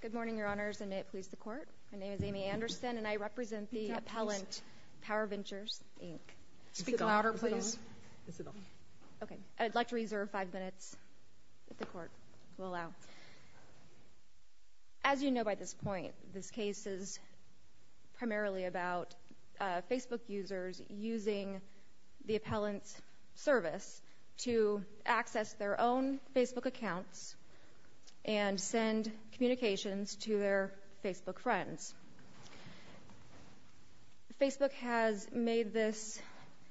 Good morning, Your Honors, and may it please the Court. My name is Amy Anderson and I represent the appellant Power Ventures, Inc. Speak louder, please. Okay, I'd like to reserve five minutes if the Court will allow. As you know by this point, this case is primarily about Facebook users using the appellant's service to access their own Facebook accounts and send communications to their Facebook friends. Facebook has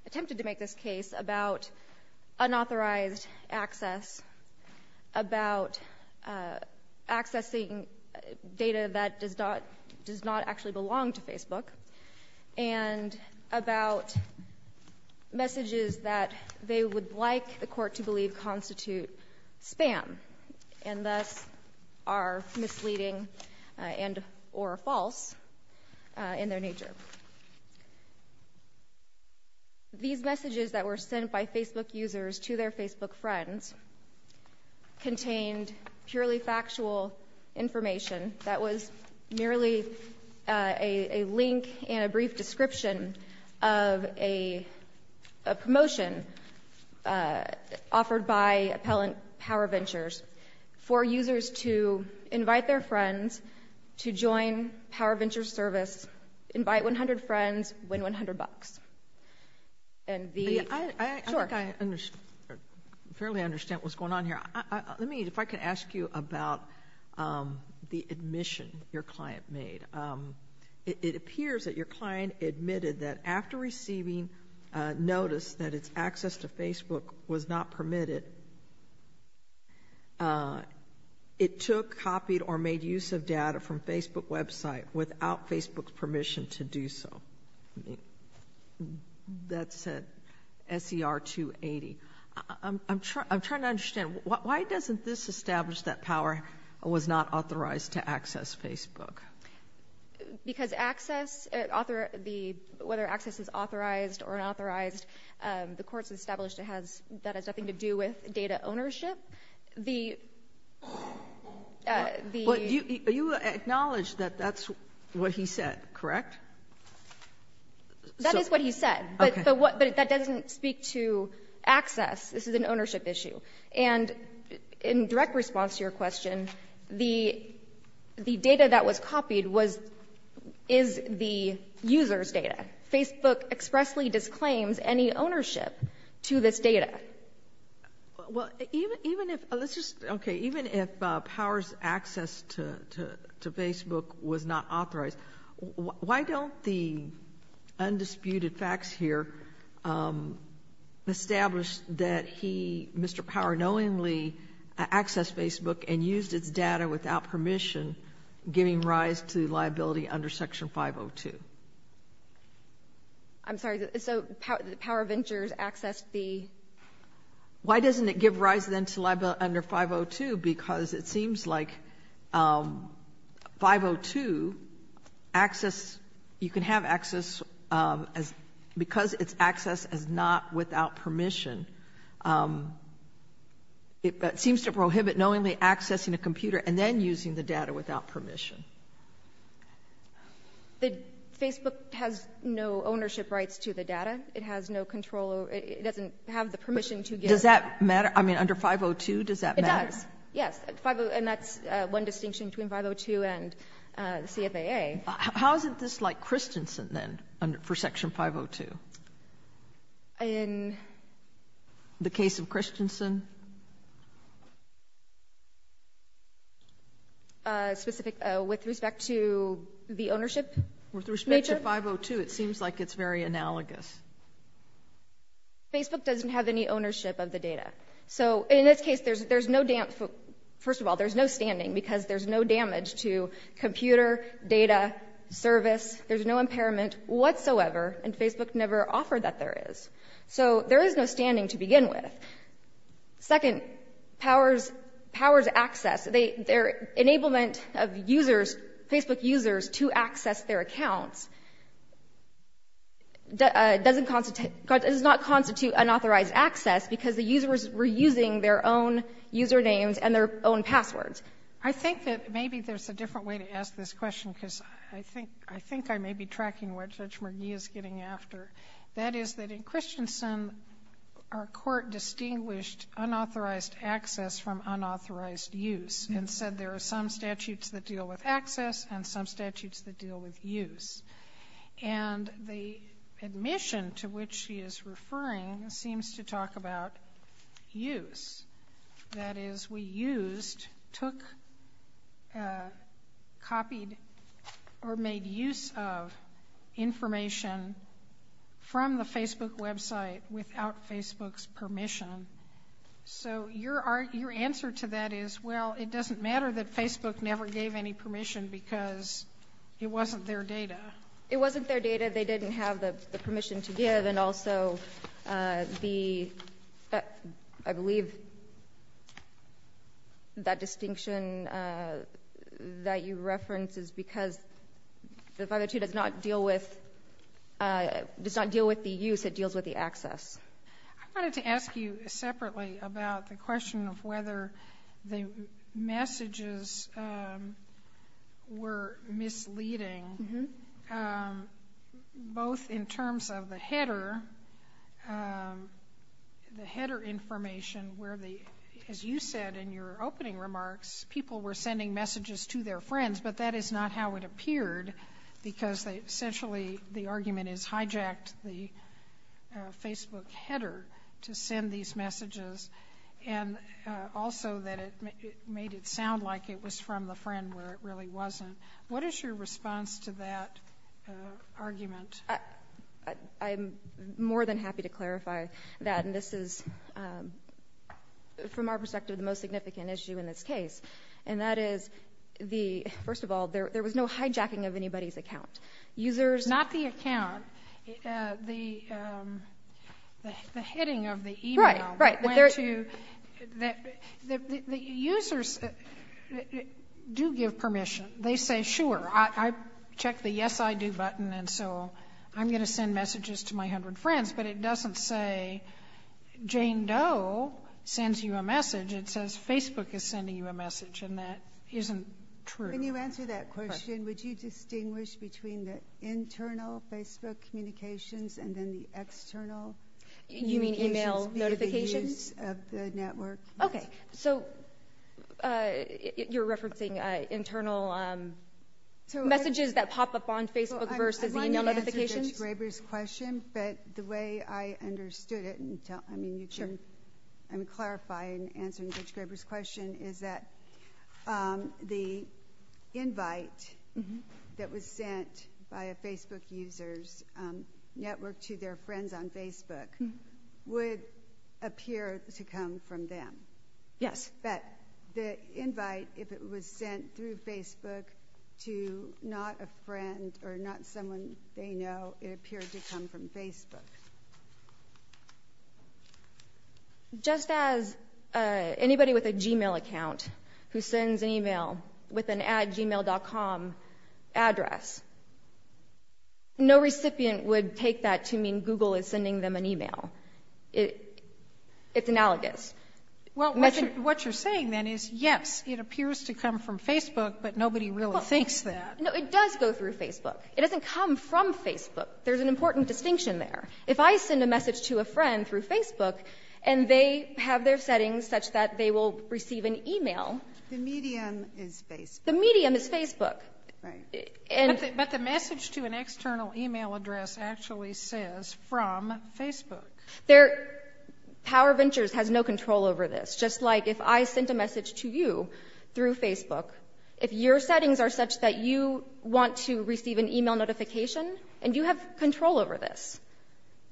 attempted to make this case about unauthorized access, about accessing data that does not actually belong to Facebook, and about messages that they would like the Court to believe constitute spam and thus are misleading and or false in their nature. These messages that were sent by Facebook users to their Facebook friends contained purely factual information that was merely a link and a brief description of a promotion offered by appellant Power Ventures for users to invite their friends to join Power Ventures service, invite 100 friends, win 100 bucks. I think I fairly understand what's going on here. Let me, if I could ask you about the admission your client made. It appears that your client admitted that after receiving notice that its access to Facebook was not permitted, it took, copied, or made use of data from Facebook website without Facebook's permission to do so. That said, SCR 280. I'm trying to understand, why doesn't this establish that Power was not authorized to access Facebook? Because access, whether access was authorized or unauthorized, the Court's established that has nothing to do with data ownership. You acknowledge that that's what he said, correct? That is what he said, but that doesn't speak to access. This is an ownership issue. And in direct response to your question, the data that was copied is the user's data. Facebook expressly disclaims any ownership to this data. Even if Power's access to Facebook was not authorized, why don't the undisputed facts here establish that he, Mr. Power, knowingly accessed Facebook and used its data without permission, giving rise to liability under Section 502? I'm sorry, so Power Ventures access be? Why doesn't it give rise then to liability under 502? Because it seems like 502, access, you can have access, because its access is not without permission, it seems to prohibit knowingly accessing a computer and then using the data without permission. Facebook has no ownership rights to the data. It has no control. It doesn't have the permission to give. Does that matter? I mean, under 502, does that matter? Yes, and that's one distinction between 502 and CFAA. How is this like Christensen then for Section 502? In? The case of Christensen? With respect to the ownership? With respect to 502, it seems like it's very analogous. Facebook doesn't have any ownership of the data. So in this case, first of all, there's no standing because there's no damage to computer, data, service. There's no impairment whatsoever, and Facebook never offered that there is. So there is no standing to begin with. Second, powers access. Their enablement of users, Facebook users, to access their accounts does not constitute unauthorized access because the users were using their own usernames and their own passwords. I think that maybe there's a different way to ask this question because I think I may be tracking what Judge McGee is getting after. That is that in Christensen, our court distinguished unauthorized access from unauthorized use and said there are some statutes that deal with access and some statutes that deal with use. And the admission to which she is referring seems to talk about use. That is we used, took, copied, or made use of information from the Facebook website without Facebook's permission. So your answer to that is, well, it doesn't matter that Facebook never gave any permission because it wasn't their data. It wasn't their data. The reason that they didn't have the permission to give and also the, I believe, that distinction that you referenced is because the statute does not deal with the use, it deals with the access. I wanted to ask you separately about the question of whether the messages were misleading both in terms of the header, the header information where the, as you said in your opening remarks, people were sending messages to their friends but that is not how it appeared because essentially the argument is hijacked the Facebook header to send these messages and also that it made it sound like it was from a friend where it really wasn't. What is your response to that argument? I'm more than happy to clarify that this is, from our perspective, the most significant issue in this case. And that is the, first of all, there was no hijacking of anybody's account. There is not the account, the heading of the email. Right, right. The users do give permission. They say, sure, I checked the yes I do button and so I'm going to send messages to my hundred friends. But it doesn't say Jane Doe sends you a message. It says Facebook is sending you a message and that isn't true. Can you answer that question? Would you distinguish between the internal Facebook communications and then the external? You mean email notifications? The use of the network. Okay, so you're referencing internal messages that pop up on Facebook versus email notifications? The way I understood it and clarify and answer Ms. Graber's question is that the invite that was sent by a Facebook user's network to their friends on Facebook would appear to come from them. Yes. The invite, if it was sent through Facebook to not a friend or not someone they know, it appeared to come from Facebook. Just as anybody with a Gmail account who sends an email with an addgmail.com address, no recipient would take that to mean Google is sending them an email. It's analogous. What you're saying then is yes, it appears to come from Facebook, but nobody really thinks that. It does go through Facebook. It doesn't come from Facebook. There's an important distinction there. If I send a message to a friend through Facebook and they have their settings such that they will receive an email. The median is Facebook. The median is Facebook. But the message to an external email address actually says from Facebook. Power Ventures has no control over this. Just like if I sent a message to you through Facebook, if your settings are such that you want to receive an email notification and you have control over this,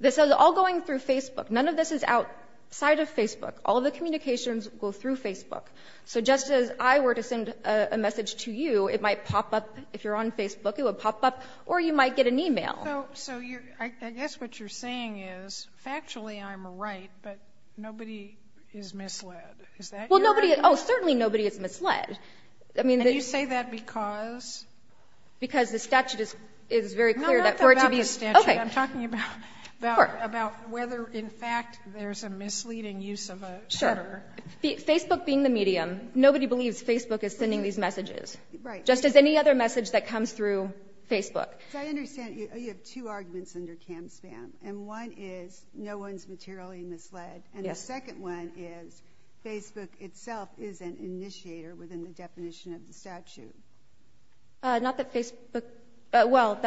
this is all going through Facebook. None of this is outside of Facebook. All the communications go through Facebook. So just as I were to send a message to you, it might pop up. If you're on Facebook, it would pop up, or you might get an email. I guess what you're saying is actually I'm right, but nobody is misled. Is that correct? Oh, certainly nobody is misled. And you say that because? Because the statute is very clear that for it to be. No, that's not about the statute. I'm talking about whether in fact there's a misleading use of a server. Facebook being the medium, nobody believes Facebook is sending these messages. Just as any other message that comes through Facebook. I understand you have two arguments under CAMSAM. And one is no one is materially misled. And the second one is Facebook itself is an initiator within the definition of the statute. Not that Facebook, well,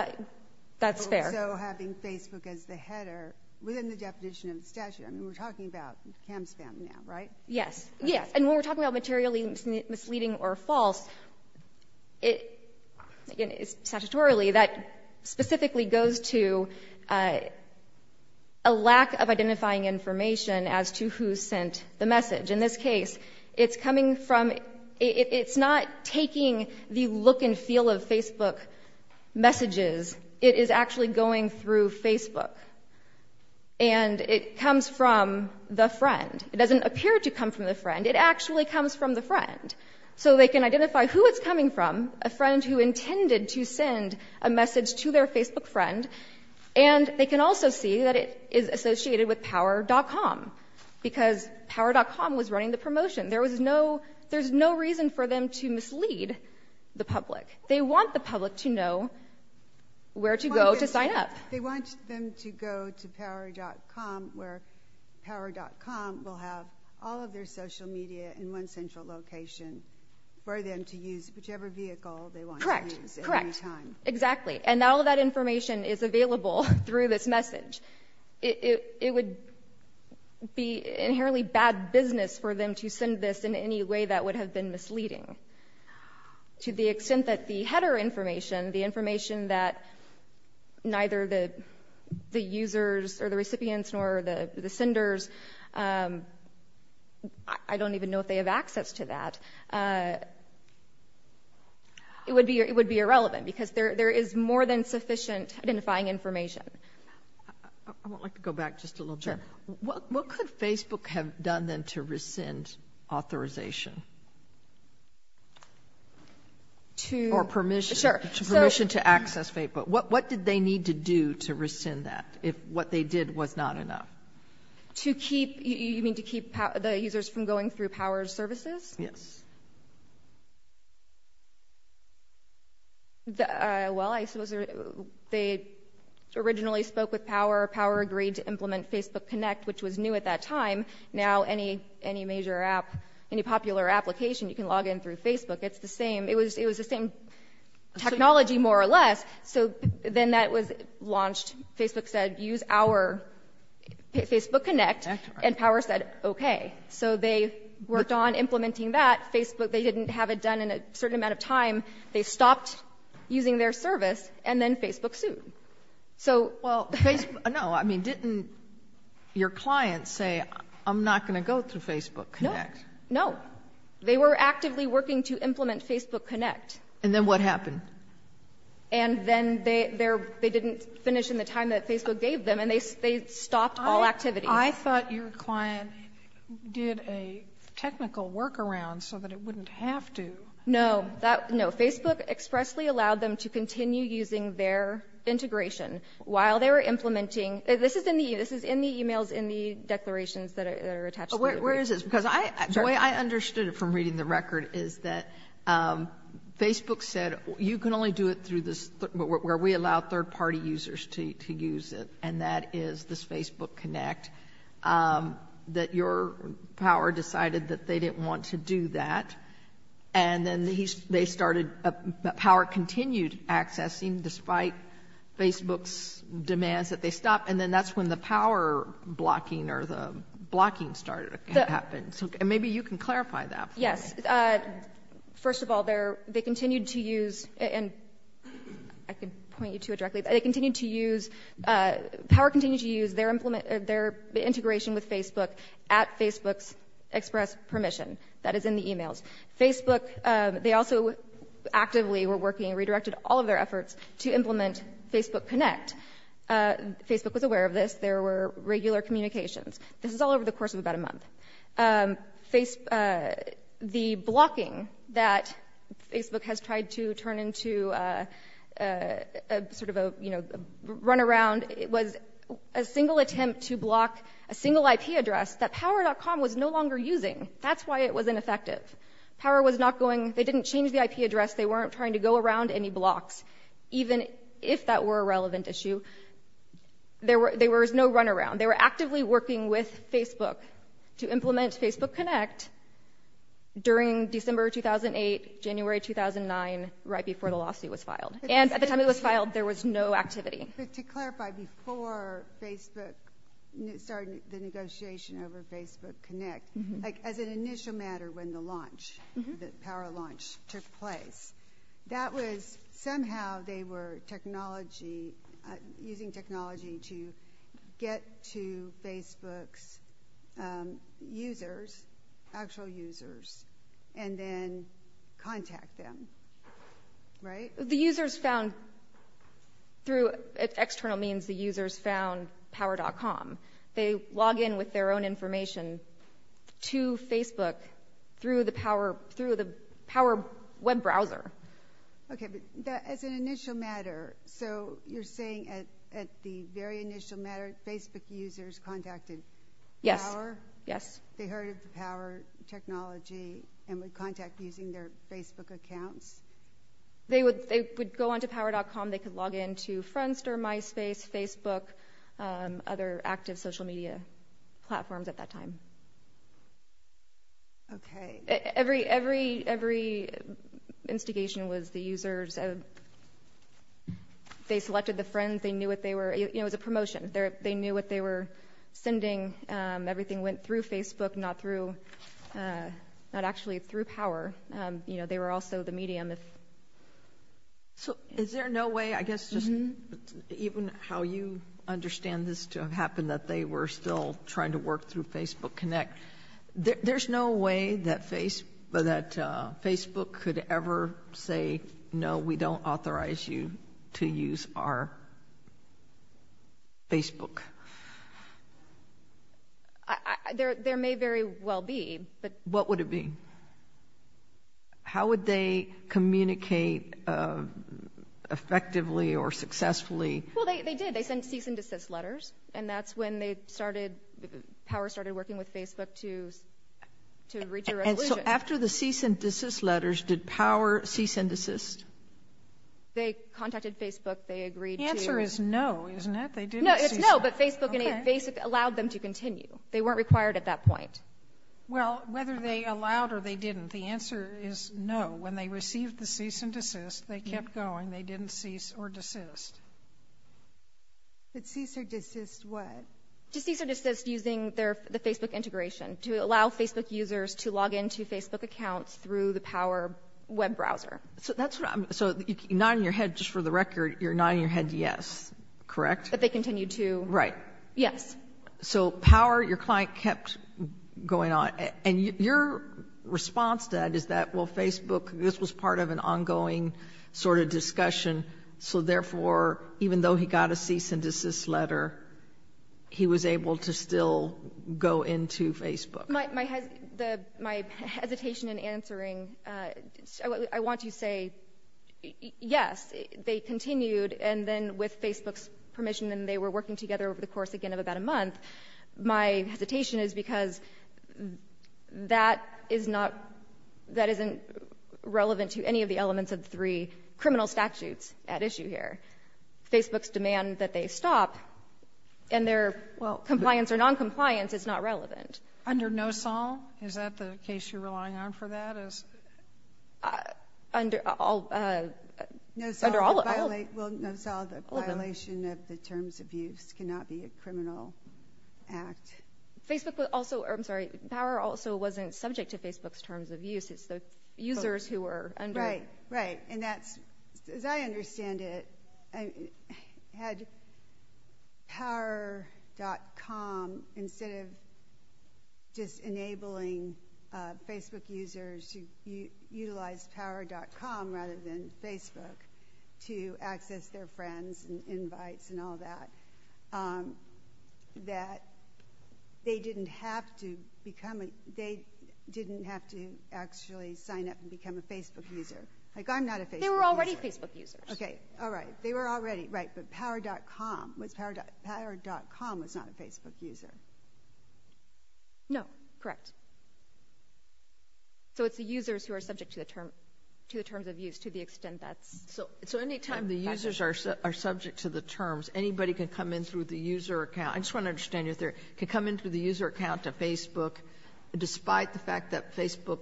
that's fair. Also having Facebook as the header within the definition of the statute. I mean, we're talking about CAMSAM now, right? Yes. And when we're talking about materially misleading or false, statutorily that specifically goes to a lack of identifying information as to who sent the message. In this case, it's coming from, it's not taking the look and feel of Facebook messages. It is actually going through Facebook. And it comes from the friend. It doesn't appear to come from the friend. It actually comes from the friend. So they can identify who it's coming from, a friend who intended to send a message to their Facebook friend. And they can also see that it is associated with power.com because power.com was running the promotion. There was no, there's no reason for them to mislead the public. They want the public to know where to go to sign up. They want them to go to power.com where power.com will have all of their social media in one central location for them to use whichever vehicle they want to use at any time. Correct. Correct. Exactly. And all of that information is available through this message. It would be inherently bad business for them to send this in any way that would have been misleading. To the extent that the header information, the information that neither the users or the recipients nor the senders, I don't even know if they have access to that, it would be irrelevant because there is more than sufficient identifying information. I would like to go back just a little bit. Sure. What could Facebook have done then to rescind authorization or permission to access Facebook? What did they need to do to rescind that if what they did was not enough? To keep, you mean to keep the users from going through Power Services? Yes. Well, they originally spoke with Power. Power agreed to implement Facebook Connect, which was new at that time. Now, any major app, any popular application, you can log in through Facebook. It's the same. It was the same technology more or less. So then that was launched. Facebook said, use our Facebook Connect, and Power said, okay. So they worked on implementing that. Facebook, they didn't have it done in a certain amount of time. They stopped using their service, and then Facebook sued. No, I mean, didn't your client say, I'm not going to go to Facebook Connect? No. They were actively working to implement Facebook Connect. And then what happened? And then they didn't finish in the time that Facebook gave them, and they stopped all activity. I thought your client did a technical workaround so that it wouldn't have to. No. Facebook expressly allowed them to continue using their integration while they were implementing. This is in the e-mails, in the declarations that are attached to it. Where is this? Because the way I understood it from reading the record is that Facebook said, you can only do it through this, where we allow third-party users to use it, and that is this Facebook Connect, that your Power decided that they didn't want to do that. And then they started, Power continued accessing despite Facebook's demands that they stop, and then that's when the Power blocking or the blocking started to happen. Maybe you can clarify that. Yes. First of all, they continued to use, and I can point you to it directly, they continued to use, Power continued to use their integration with Facebook at Facebook's express permission. That is in the e-mails. Facebook, they also actively were working, redirected all of their efforts to implement Facebook Connect. Facebook was aware of this. There were regular communications. This is all over the course of about a month. The blocking that Facebook has tried to turn into sort of a run-around was a single attempt to block a single IP address that Power.com was no longer using. That's why it was ineffective. Power was not going, they didn't change the IP address. They weren't trying to go around any blocks, even if that were a relevant issue. There was no run-around. They were actively working with Facebook to implement Facebook Connect during December 2008, January 2009, right before the lawsuit was filed. And at the time it was filed, there was no activity. Just to clarify, before Facebook started the negotiation over Facebook Connect, as an initial matter when the launch, the Power launch took place, that was somehow they were technology, using technology to get to Facebook users, actual users, and then contact them, right? The users found, through external means, the users found Power.com. They log in with their own information to Facebook through the Power web browser. Okay, but as an initial matter, so you're saying at the very initial matter, Facebook users contacted Power? Yes. They heard of the Power technology and would contact using their Facebook account? They would go on to Power.com. They could log in to Friendster, MySpace, Facebook, other active social media platforms at that time. Okay, every instigation was the users. They selected the friends. They knew what they were, you know, the promotions. They knew what they were sending. Everything went through Facebook, not through, not actually through Power. You know, they were also the media. So is there no way, I guess, even how you understand this to have happened, that they were still trying to work through Facebook Connect? There's no way that Facebook could ever say, no, we don't authorize you to use our Facebook. There may very well be. What would it be? How would they communicate effectively or successfully? Well, they did. They sent cease and desist letters, and that's when they started, Power started working with Facebook to reach a resolution. And so after the cease and desist letters, did Power cease and desist? They contacted Facebook. The answer is no, isn't it? No, it's no, but Facebook allowed them to continue. They weren't required at that point. Well, whether they allowed or they didn't, the answer is no. When they received the cease and desist, they kept going. They didn't cease or desist. To cease or desist what? To cease or desist using the Facebook integration, to allow Facebook users to log into Facebook accounts through the Power web browser. So not in your head, just for the record, you're nodding your head yes, correct? That they continue to? Right. Yes. So Power, your client, kept going on. And your response to that is that, well, Facebook, this was part of an ongoing sort of discussion, so therefore even though he got a cease and desist letter, he was able to still go into Facebook. My hesitation in answering, I want to say yes, they continued, and then with Facebook's permission, and they were working together over the course, again, of about a month. My hesitation is because that is not – that isn't relevant to any of the elements of three criminal statutes at issue here. Facebook's demand that they stop and their compliance or noncompliance is not relevant. Under NOSOL? Is that the case you're relying on for that? Under all – NOSOL is a violation of the Terms of Use, cannot be a criminal act. Facebook also – I'm sorry, Power also wasn't subject to Facebook's Terms of Use. It's the users who were under it. Right, right. And that's – as I understand it, had Power.com, instead of just enabling Facebook users to utilize Power.com rather than Facebook to access their friends and invites and all that, that they didn't have to become – they didn't have to actually sign up and become a Facebook user. Like, I'm not a Facebook user. They were already Facebook users. Okay, all right. They were already – right. Power.com was not a Facebook user. No, correct. So it's the users who are subject to the Terms of Use to the extent that – So any time the users are subject to the terms, anybody can come in through the user account – I just want to understand your theory. Can come in through the user account to Facebook despite the fact that Facebook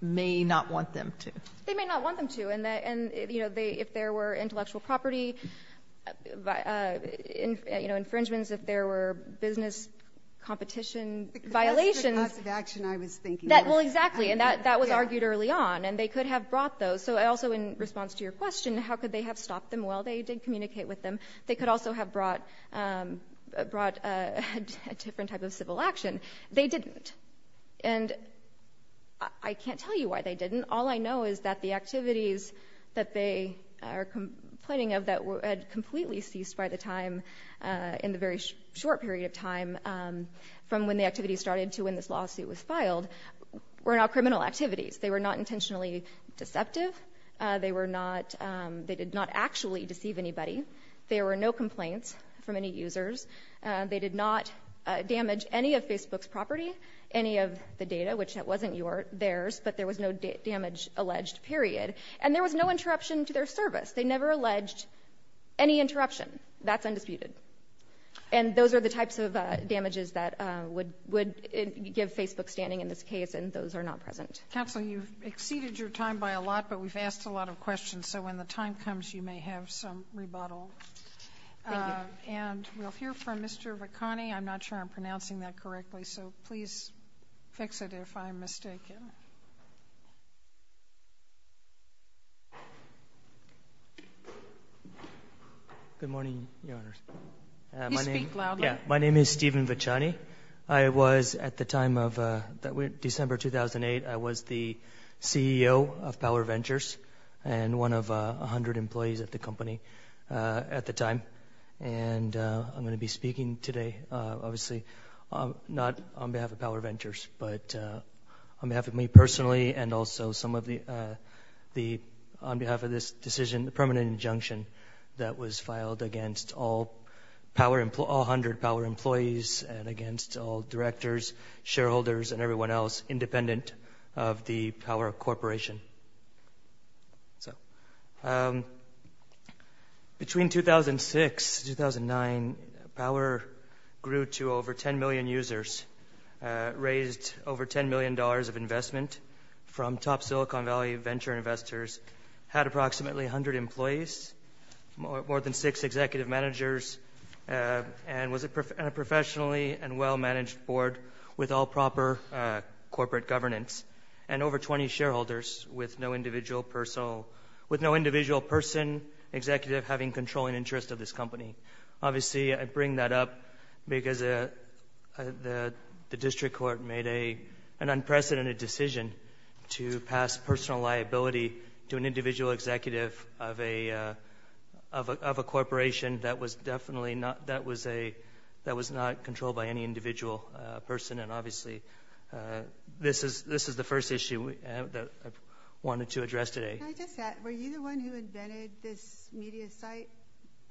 may not want them to? They may not want them to. And if there were intellectual property infringements, if there were business competition violations – Because that's the type of action I was thinking of. Well, exactly, and that was argued early on. And they could have brought those. So I also, in response to your question, how could they have stopped them? Well, they did communicate with them. They could also have brought a different type of civil action. They didn't. And I can't tell you why they didn't. All I know is that the activities that they are complaining of that had completely ceased by the time in the very short period of time from when the activity started to when this lawsuit was filed were not criminal activities. They were not intentionally deceptive. They were not – they did not actually deceive anybody. There were no complaints from any users. They did not damage any of Facebook's property, any of the data, which wasn't theirs, just that there was no damage alleged, period. And there was no interruption to their service. They never alleged any interruption. That's undefeated. And those are the types of damages that would give Facebook standing in this case, and those are not present. Kathleen, you've exceeded your time by a lot, but we've asked a lot of questions, so when the time comes, you may have some rebuttals. And we'll hear from Mr. Vicani. I'm not sure I'm pronouncing that correctly, so please text it if I'm mistaken. Good morning. My name is Stephen Vicani. I was, at the time of December 2008, I was the CEO of Power Ventures and one of 100 employees at the company at the time. And I'm going to be speaking today. Obviously not on behalf of Power Ventures, but on behalf of me personally and also on behalf of this decision, the permanent injunction, that was filed against all 100 Power employees and against all directors, shareholders, and everyone else independent of the Power Corporation. Between 2006 and 2009, Power grew to over 10 million users, raised over $10 million of investment from top Silicon Valley venture investors, had approximately 100 employees, more than six executive managers, and was a professionally and well-managed board with all proper corporate governance. And over 20 shareholders with no individual person, executive, having controlling interest of this company. Obviously I bring that up because the district court made an unprecedented decision to pass personal liability to an individual executive of a corporation that was definitely not controlled by any individual person. And obviously this is the first issue that I wanted to address today. Can I get that? Were you the one who invented this media site,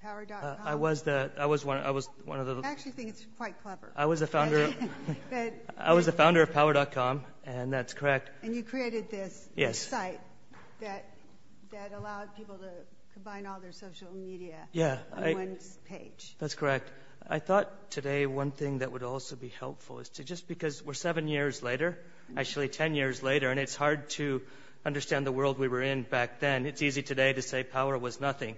Power.com? I was. I actually think it's quite clever. I was the founder of Power.com, and that's correct. And you created this site that allowed people to combine all their social media on one page. That's correct. I thought today one thing that would also be helpful is just because we're seven years later, actually ten years later, and it's hard to understand the world we were in back then. It's easy today to say Power was nothing.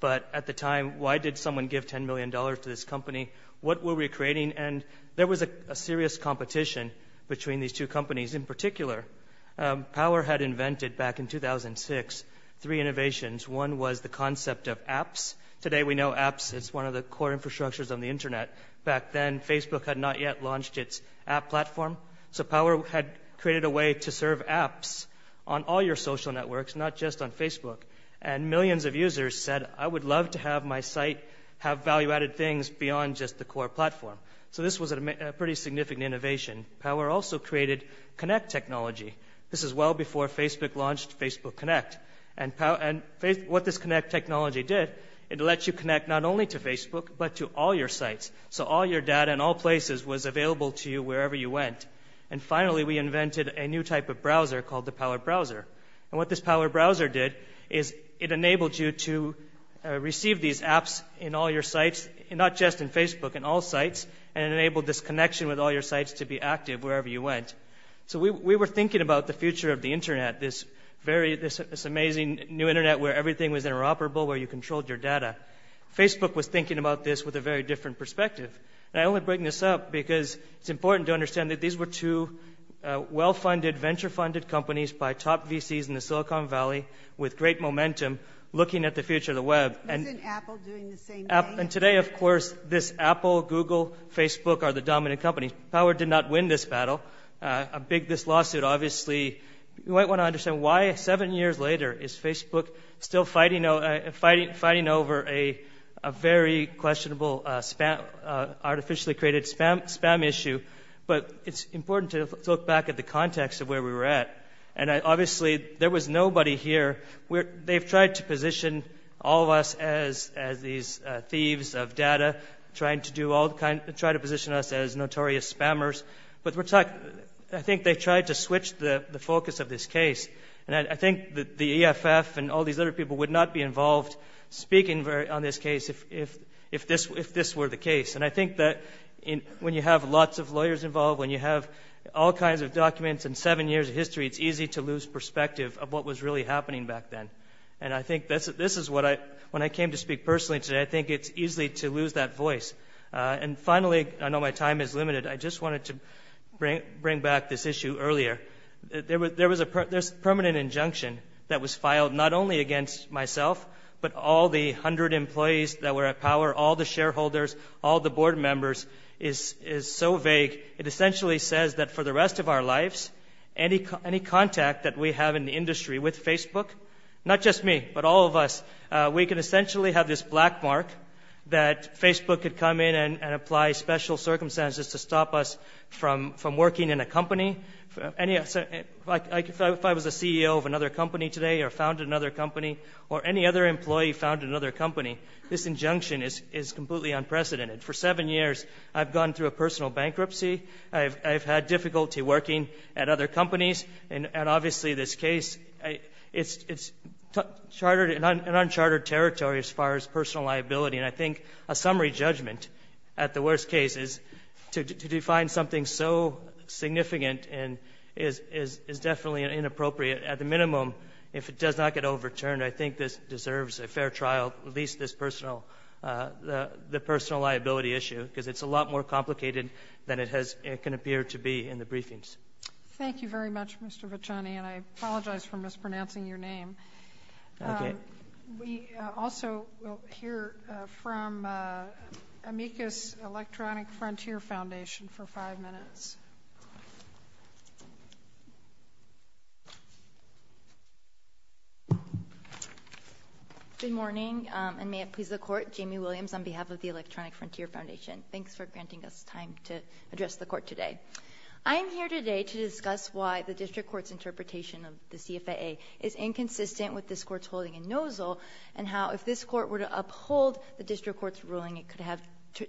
But at the time, why did someone give $10 million to this company? What were we creating? And there was a serious competition between these two companies. In particular, Power had invented back in 2006 three innovations. One was the concept of apps. Today we know apps is one of the core infrastructures of the Internet. Back then, Facebook had not yet launched its app platform. So Power had created a way to serve apps on all your social networks, not just on Facebook. And millions of users said, I would love to have my site have value-added things beyond just the core platform. So this was a pretty significant innovation. Power also created Connect technology. This was well before Facebook launched Facebook Connect. What this Connect technology did, it lets you connect not only to Facebook, but to all your sites. So all your data in all places was available to you wherever you went. And finally, we invented a new type of browser called the Power Browser. And what this Power Browser did is it enabled you to receive these apps in all your sites, not just in Facebook, in all sites, and it enabled this connection with all your sites to be active wherever you went. So we were thinking about the future of the Internet, this amazing new Internet where everything was interoperable, where you controlled your data. Facebook was thinking about this with a very different perspective. I only bring this up because it's important to understand that these were two well-funded, venture-funded companies by top VCs in the Silicon Valley with great momentum looking at the future of the Web. And today, of course, this Apple, Google, Facebook are the dominant companies. Power did not win this battle. I'm big this lawsuit, obviously. You might want to understand why, seven years later, is Facebook still fighting over a very questionable, artificially-created spam issue. But it's important to look back at the context of where we were at. And obviously, there was nobody here. They tried to position us as notorious spammers. But I think they tried to switch the focus of this case. And I think the EFF and all these other people would not be involved speaking on this case if this were the case. And I think that when you have lots of lawyers involved, when you have all kinds of documents and seven years of history, it's easy to lose perspective of what was really happening back then. And I think this is what I – when I came to speak personally today, I think it's easy to lose that voice. And finally, I know my time is limited, I just wanted to bring back this issue earlier. There was a permanent injunction that was filed not only against myself, but all the hundred employees that were at Power, all the shareholders, all the board members, is so vague. It essentially says that for the rest of our lives, any contact that we have in the industry with Facebook, not just me, but all of us, we can essentially have this black mark that Facebook could come in and apply special circumstances to stop us from working in a company. If I was the CEO of another company today or founded another company, or any other employee founded another company, this injunction is completely unprecedented. For seven years, I've gone through a personal bankruptcy. I've had difficulty working at other companies. And obviously, this case, it's chartered and unchartered territory as far as personal liability. And I think a summary judgment at the worst case is to define something so significant and is definitely inappropriate, at the minimum, if it does not get overturned, I think this deserves a fair trial, at least the personal liability issue, because it's a lot more complicated than it can appear to be in the briefings. Thank you very much, Mr. Vitani, and I apologize for mispronouncing your name. We also will hear from Amicus Electronic Frontier Foundation for five minutes. Good morning, and may it please the Court. Jamie Williams on behalf of the Electronic Frontier Foundation. Thanks for granting us time to address the Court today. I am here today to discuss why the District Court's interpretation of the CFAA is inconsistent with this Court's ruling in Nozzle, and how if this Court were to uphold the District Court's ruling, it could have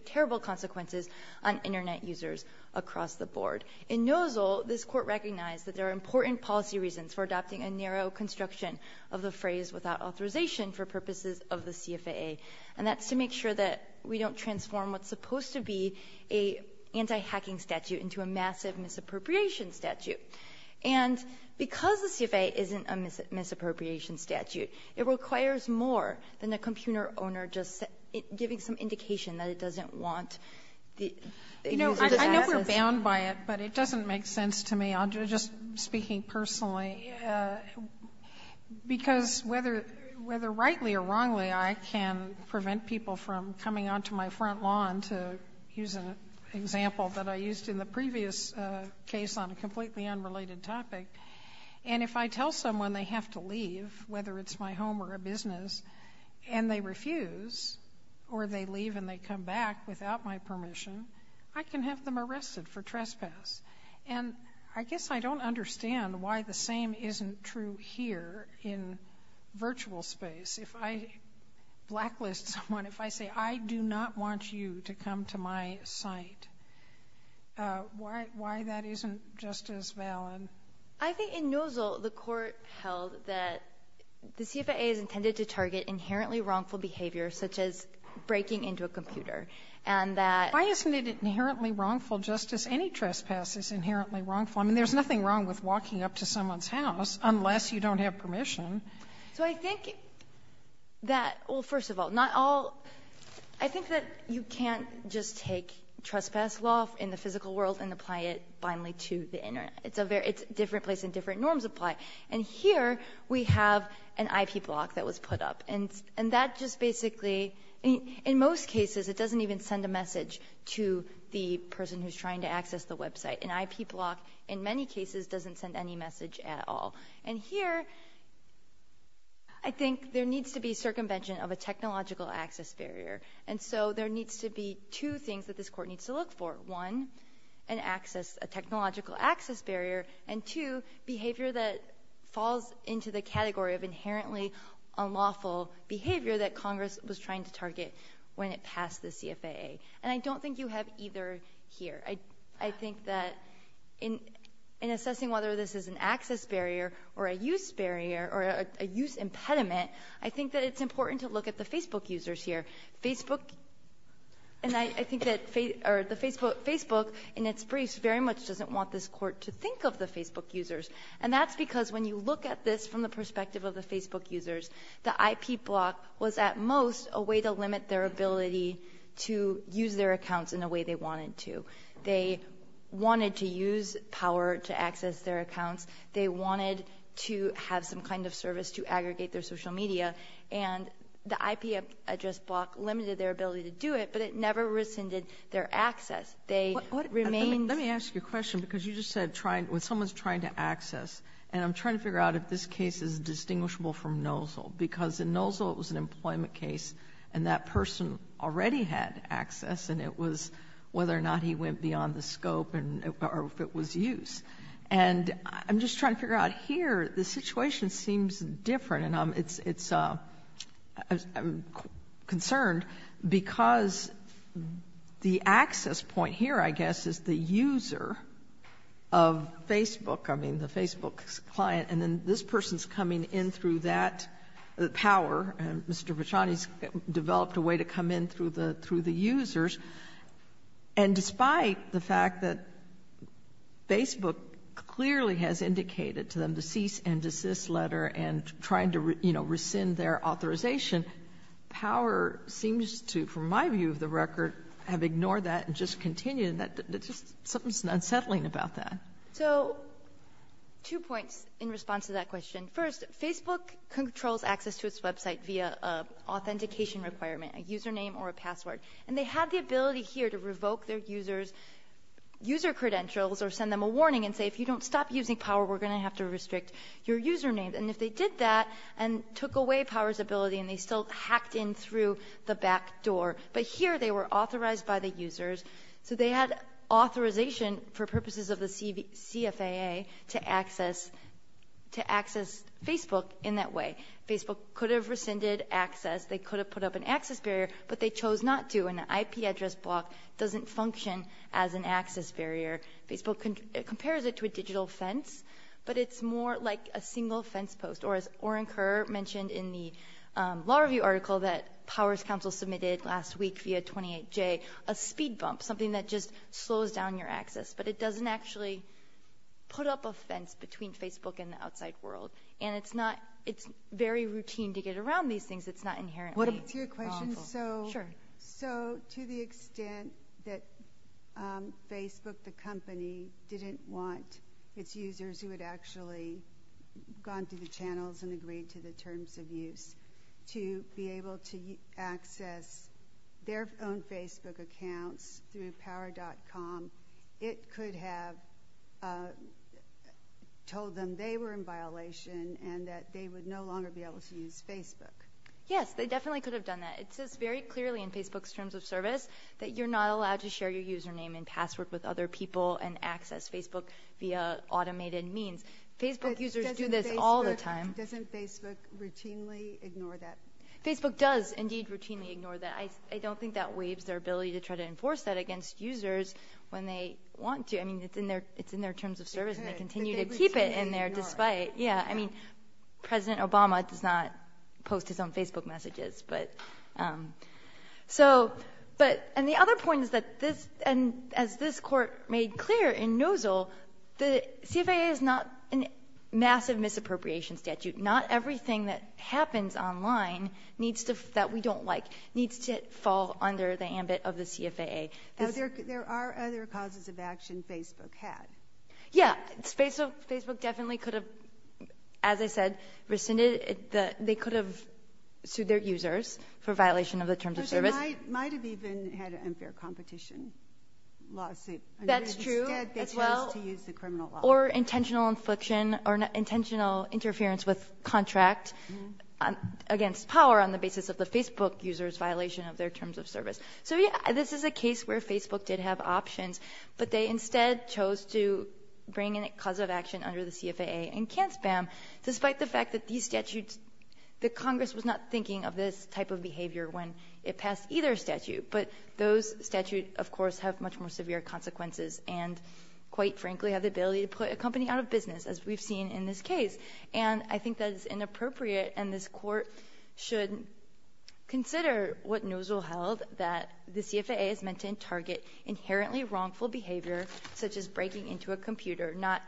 terrible consequences on Internet users across the board. In Nozzle, this Court recognized that there are important policy reasons for adopting a narrow construction of the phrase without authorization for purposes of the CFAA, and that's to make sure that we don't transform what's supposed to be an anti-hacking statute into a massive misappropriation statute. And because the CFAA isn't a misappropriation statute, it requires more than the computer owner just giving some indication that it doesn't want... You know, I know we're bound by it, but it doesn't make sense to me. I'm just speaking personally, because whether rightly or wrongly, I can prevent people from coming onto my front lawn, to use an example that I used in the previous case on a completely unrelated topic, and if I tell someone they have to leave, whether it's my home or a business, and they refuse, or they leave and they come back without my permission, I can have them arrested for trespass. And I guess I don't understand why the same isn't true here in virtual space. If I blacklist someone, if I say, I do not want you to come to my site, why that isn't just as valid? I think in Nozzle, the court held that the CFAA is intended to target inherently wrongful behavior, such as breaking into a computer, and that... Why isn't it inherently wrongful just as any trespass is inherently wrongful? I mean, there's nothing wrong with walking up to someone's house unless you don't have permission. So I think that, well, first of all, not all... I think that you can't just take trespass law in the physical world and apply it blindly to the Internet. It's a different place and different norms apply. And here we have an IP block that was put up, and that just basically, in most cases, it doesn't even send a message to the person who's trying to access the website. An IP block, in many cases, doesn't send any message at all. And here, I think there needs to be circumvention of a technological access barrier. And so there needs to be two things that this court needs to look for. One, an access, a technological access barrier, and two, behavior that falls into the category of inherently unlawful behavior that Congress was trying to target when it passed the CFAA. And I don't think you have either here. I think that in assessing whether this is an access barrier or a use barrier or a use impediment, I think that it's important to look at the Facebook users here. Facebook, and I think that Facebook, in its brief, very much doesn't want this court to think of the Facebook users. And that's because when you look at this from the perspective of the Facebook users, the IP block was, at most, a way to limit their ability to use their accounts in the way they wanted to. They wanted to use power to access their accounts. They wanted to have some kind of service to aggregate their social media. And the IP address block limited their ability to do it, but it never rescinded their access. Let me ask you a question, because you just said when someone's trying to access, and I'm trying to figure out if this case is distinguishable from Nozle, because in Nozle it was an employment case, and that person already had access, and it was whether or not he went beyond the scope or if it was use. And I'm just trying to figure out here, the situation seems different, and I'm concerned because the access point here, I guess, is the user of Facebook. I mean, the Facebook client, and then this person's coming in through that power, and Mr. Vachon has developed a way to come in through the users. And despite the fact that Facebook clearly has indicated to them the cease and desist letter and trying to rescind their authorization, power seems to, from my view of the record, have ignored that and just continued, and something's unsettling about that. So two points in response to that question. First, Facebook controls access to its website via authentication requirement, a username or a password, and they have the ability here to revoke their user credentials or send them a warning and say if you don't stop using power, we're going to have to restrict your username. And if they did that and took away power's ability and they still hacked in through the back door, but here they were authorized by the users. So they had authorization for purposes of the CFAA to access Facebook in that way. Facebook could have rescinded access. They could have put up an access barrier, but they chose not to, and the IP address block doesn't function as an access barrier. Facebook compares it to a digital fence, but it's more like a single fence post. Or as Oren Kerr mentioned in the Law Review article that Powers Council submitted last week via 28J, a speed bump, something that just slows down your access, but it doesn't actually put up a fence between Facebook and the outside world. And it's very routine to get around these things. It's not inherently lawful. So to the extent that Facebook, the company, didn't want its users who had actually gone through the channels and agreed to the terms of use to be able to access their own Facebook account through Power.com, it could have told them they were in violation and that they would no longer be able to use Facebook. Yes, they definitely could have done that. It says very clearly in Facebook's terms of service that you're not allowed to share your username and password with other people and access Facebook via automated means. Facebook users do this all the time. Doesn't Facebook routinely ignore that? Facebook does indeed routinely ignore that. I don't think that waives their ability to try to enforce that against users when they want to. I mean, it's in their terms of service, and they continue to keep it in there despite it. President Obama does not post his own Facebook messages. And the other point is that, as this court made clear in Nozzle, the CFAA is not a massive misappropriation statute. Not everything that happens online that we don't like needs to fall under the ambit of the CFAA. There are other causes of action Facebook has. Yes, Facebook definitely could have, as I said, rescinded it. They could have sued their users for violation of the terms of service. They might have even had an unfair competition lawsuit. That's true as well. Or intentional infliction or intentional interference with contract against power on the basis of the Facebook user's violation of their terms of service. So, yes, this is a case where Facebook did have options, but they instead chose to bring in a cause of action under the CFAA and can't spam, despite the fact that these statutes, that Congress was not thinking of this type of behavior when it passed either statute. But those statutes, of course, have much more severe consequences and, quite frankly, have the ability to put a company out of business, as we've seen in this case. And I think that is inappropriate, and this court should consider what Nozzle held, that the CFAA is meant to target inherently wrongful behavior, such as breaking into a computer, not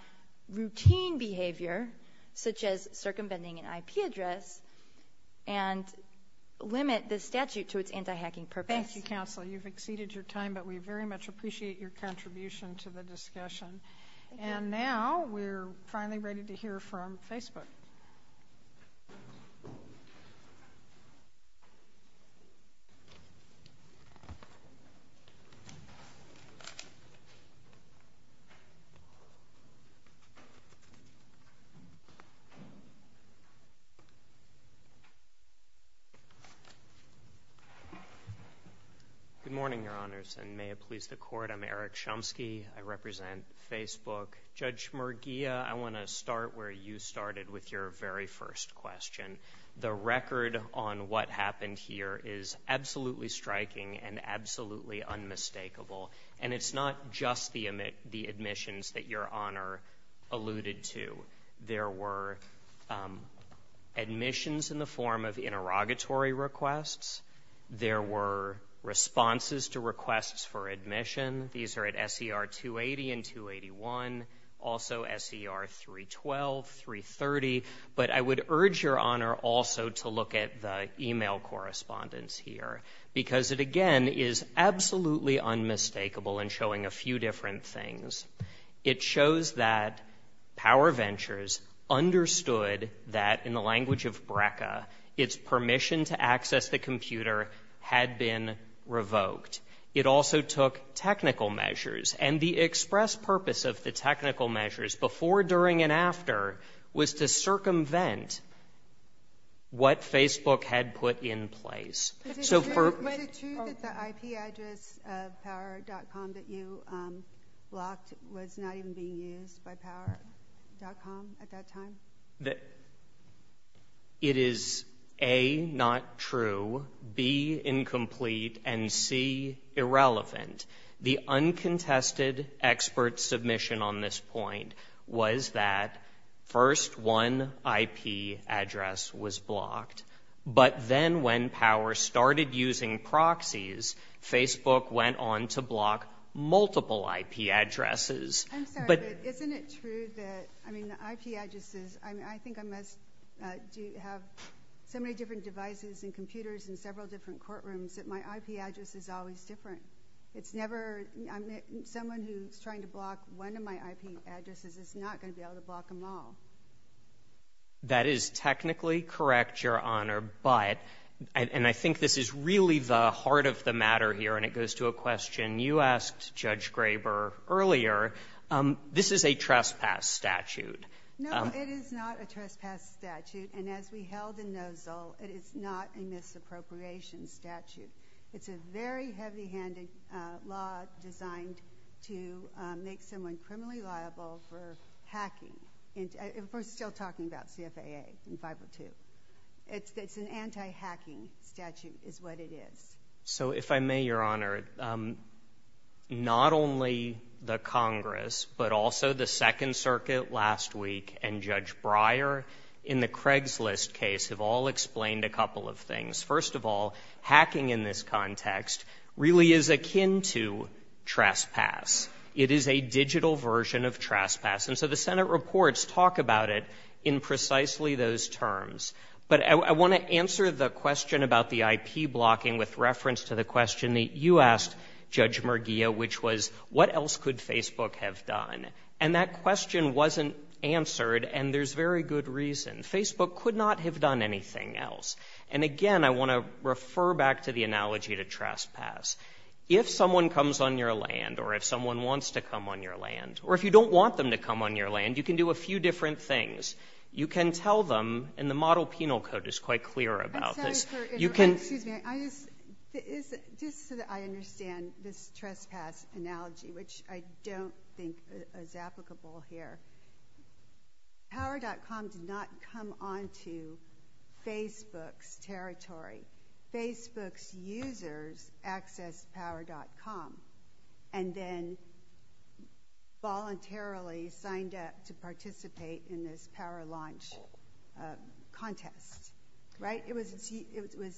routine behavior, such as circumventing an IP address, and limit the statute to its anti-hacking purpose. Thank you, Counsel. You've exceeded your time, but we very much appreciate your contribution to the discussion. And now we're finally ready to hear from Facebook. Eric Chomsky. Good morning, Your Honors, and may it please the Court, I'm Eric Chomsky. I represent Facebook. Judge Merguia, I want to start where you started with your very first question. The record on what happened here is absolutely striking and absolutely unmistakable, and it's not just the admissions that Your Honor alluded to. There were admissions in the form of interrogatory requests. There were responses to requests for admission. These are at SER 280 and 281, also SER 312, 330. But I would urge Your Honor also to look at the e-mail correspondence here, because it, again, is absolutely unmistakable in showing a few different things. It shows that PowerVentures understood that, in the language of BRCA, its permission to access the computer had been revoked. It also took technical measures, and the express purpose of the technical measures before, during, and after was to circumvent what Facebook had put in place. Was it true that the IP address of power.com that you blocked was not even being used by power.com at that time? It is A, not true, B, incomplete, and C, irrelevant. The uncontested expert submission on this point was that first one IP address was blocked. But then when Power started using proxies, Facebook went on to block multiple IP addresses. I'm sorry, but isn't it true that, I mean, the IP addresses, I think I must have so many different devices and computers in several different courtrooms that my IP address is always different? It's never, someone who's trying to block one of my IP addresses is not going to be able to block them all. That is technically correct, Your Honor, but, and I think this is really the heart of the matter here, and it goes to a question you asked Judge Graber earlier, this is a trespass statute. No, it is not a trespass statute, and as we held in Nozzle, it is not a misappropriation statute. It's a very heavy-handed law designed to make someone criminally liable for hacking. We're still talking about CFAA in 502. It's an anti-hacking statute is what it is. So if I may, Your Honor, not only the Congress, but also the Second Circuit last week and Judge Breyer, in the Craigslist case, have all explained a couple of things. First of all, hacking in this context really is akin to trespass. It is a digital version of trespass, and so the Senate reports talk about it in precisely those terms. But I want to answer the question about the IP blocking with reference to the question that you asked Judge Merguia, which was what else could Facebook have done? And that question wasn't answered, and there's very good reason. Facebook could not have done anything else. And again, I want to refer back to the analogy to trespass. If someone comes on your land, or if someone wants to come on your land, or if you don't want them to come on your land, you can do a few different things. You can tell them, and the model penal code is quite clear about this. Excuse me. Just so that I understand this trespass analogy, which I don't think is applicable here, Power.com did not come onto Facebook's territory. Facebook's users accessed Power.com and then voluntarily signed up to participate in this power launch contest. Right? It was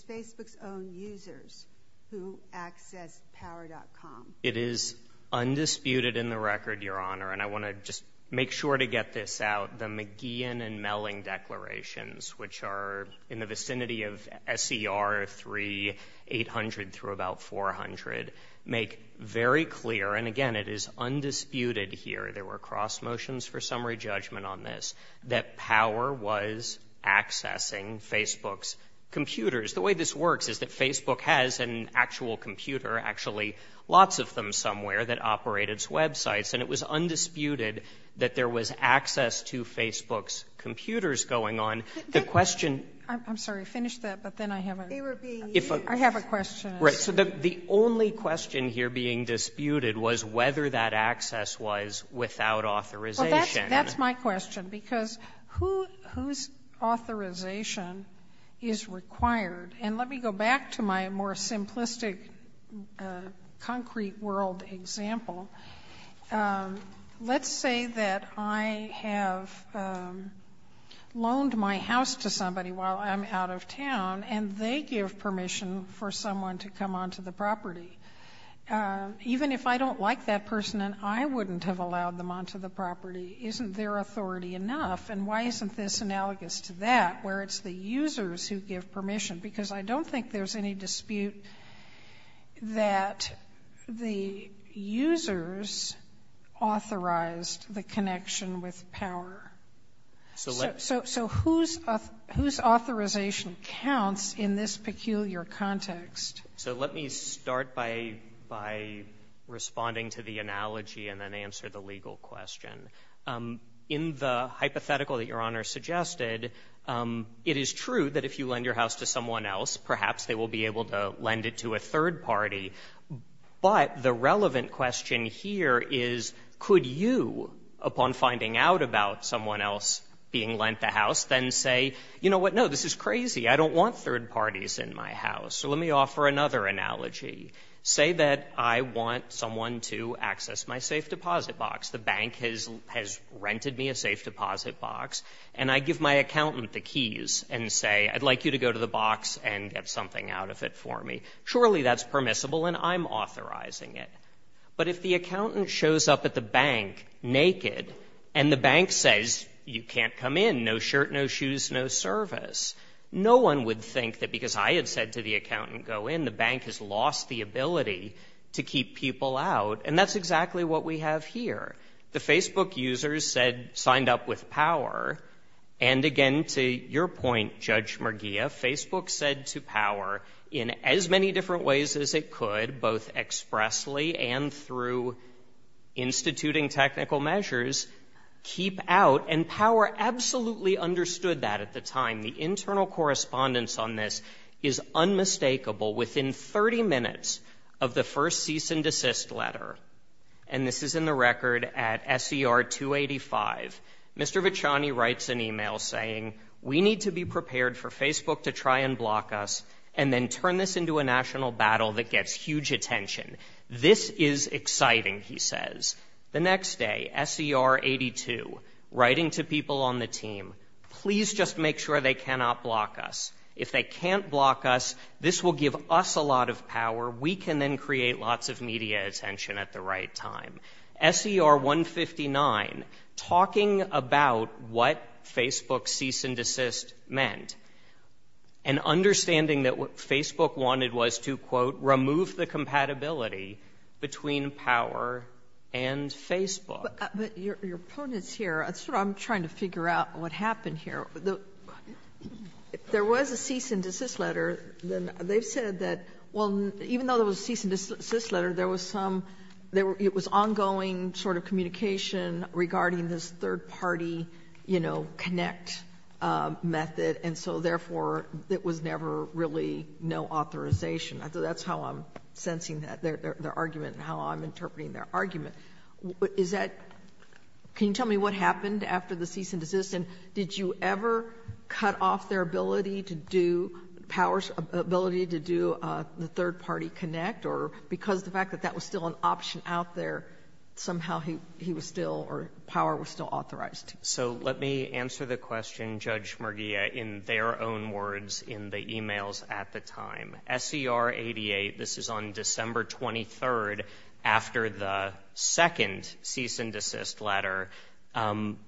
Facebook's own users who accessed Power.com. It is undisputed in the record, Your Honor, and I want to just make sure to get this out. The McGeehan and Melling declarations, which are in the vicinity of SCR 3, 800 through about 400, make very clear, and again, it is undisputed here, there were cross motions for summary judgment on this, that Power was accessing Facebook's computers. The way this works is that Facebook has an actual computer, actually lots of them somewhere, that operate its websites, and it was undisputed that there was access to Facebook's computers going on. The question... I'm sorry, finish that, but then I have a... I have a question. Right, so the only question here being disputed was whether that access was without authorization. That's my question, because whose authorization is required? And let me go back to my more simplistic concrete world example. Let's say that I have loaned my house to somebody while I'm out of town, and they give permission for someone to come onto the property. Even if I don't like that person, and I wouldn't have allowed them onto the property, isn't their authority enough? And why isn't this analogous to that, where it's the users who give permission? Because I don't think there's any dispute that the users authorized the connection with Power. So whose authorization counts in this peculiar context? So let me start by responding to the analogy and then answer the legal question. In the hypothetical that Your Honor suggested, it is true that if you lend your house to someone else, perhaps they will be able to lend it to a third party. But the relevant question here is, could you, upon finding out about someone else being lent the house, then say, you know what, no, this is crazy. I don't want third parties in my house. So let me offer another analogy. Say that I want someone to access my safe deposit box. The bank has rented me a safe deposit box, and I give my accountant the keys and say, I'd like you to go to the box and get something out of it for me. Surely that's permissible, and I'm authorizing it. But if the accountant shows up at the bank naked, and the bank says, you can't come in. No shirt, no shoes, no service. No one would think that because I had said to the accountant, go in, the bank has lost the ability to keep people out. And that's exactly what we have here. The Facebook users said, signed up with power. And again, to your point, Judge Merguia, Facebook said to power in as many different ways as it could, both expressly and through instituting technical measures, keep out. And power absolutely understood that at the time. The internal correspondence on this is unmistakable. Within 30 minutes of the first cease and desist letter, and this is in the record at SER 285, Mr. Bachani writes an email saying, we need to be prepared for Facebook to try and block us and then turn this into a national battle that gets huge attention. This is exciting, he says. The next day, SER 82, writing to people on the team, please just make sure they cannot block us. If they can't block us, this will give us a lot of power. We can then create lots of media attention at the right time. SER 159, talking about what Facebook's cease and desist meant, and understanding that what Facebook wanted was to, quote, remove the compatibility between power and Facebook. Your opponents here, I'm trying to figure out what happened here. There was a cease and desist letter. They said that, well, even though there was a cease and desist letter, it was ongoing sort of communication regarding this third-party connect method, and so therefore there was never really no authorization. I think that's how I'm sensing their argument and how I'm interpreting their argument. Can you tell me what happened after the cease and desist, and did you ever cut off their ability to do the third-party connect, or because of the fact that that was still an option out there, somehow power was still authorized? So let me answer the question, Judge Merguia, in their own words in the e-mails at the time. SER 88, this is on December 23rd, after the second cease and desist letter,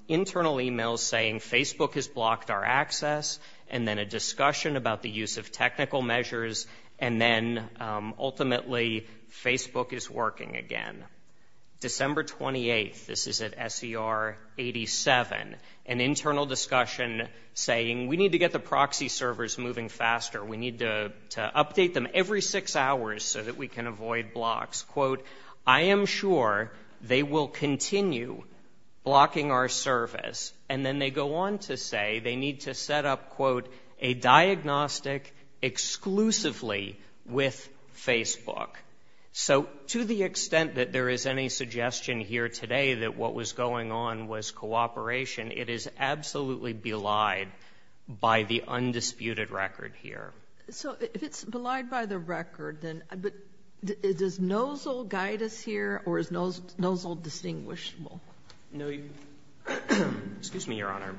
internal e-mails saying Facebook has blocked our access, and then a discussion about the use of technical measures, and then ultimately Facebook is working again. December 28th, this is at SER 87, an internal discussion saying we need to get the proxy servers moving faster. We need to update them every six hours so that we can avoid blocks. Quote, I am sure they will continue blocking our service, and then they go on to say they need to set up, quote, a diagnostic exclusively with Facebook. So to the extent that there is any suggestion here today that what was going on was cooperation, it is absolutely belied by the undisputed record here. So if it's belied by the record, then does NOZL guide us here, or is NOZL distinguishable? Excuse me, Your Honor.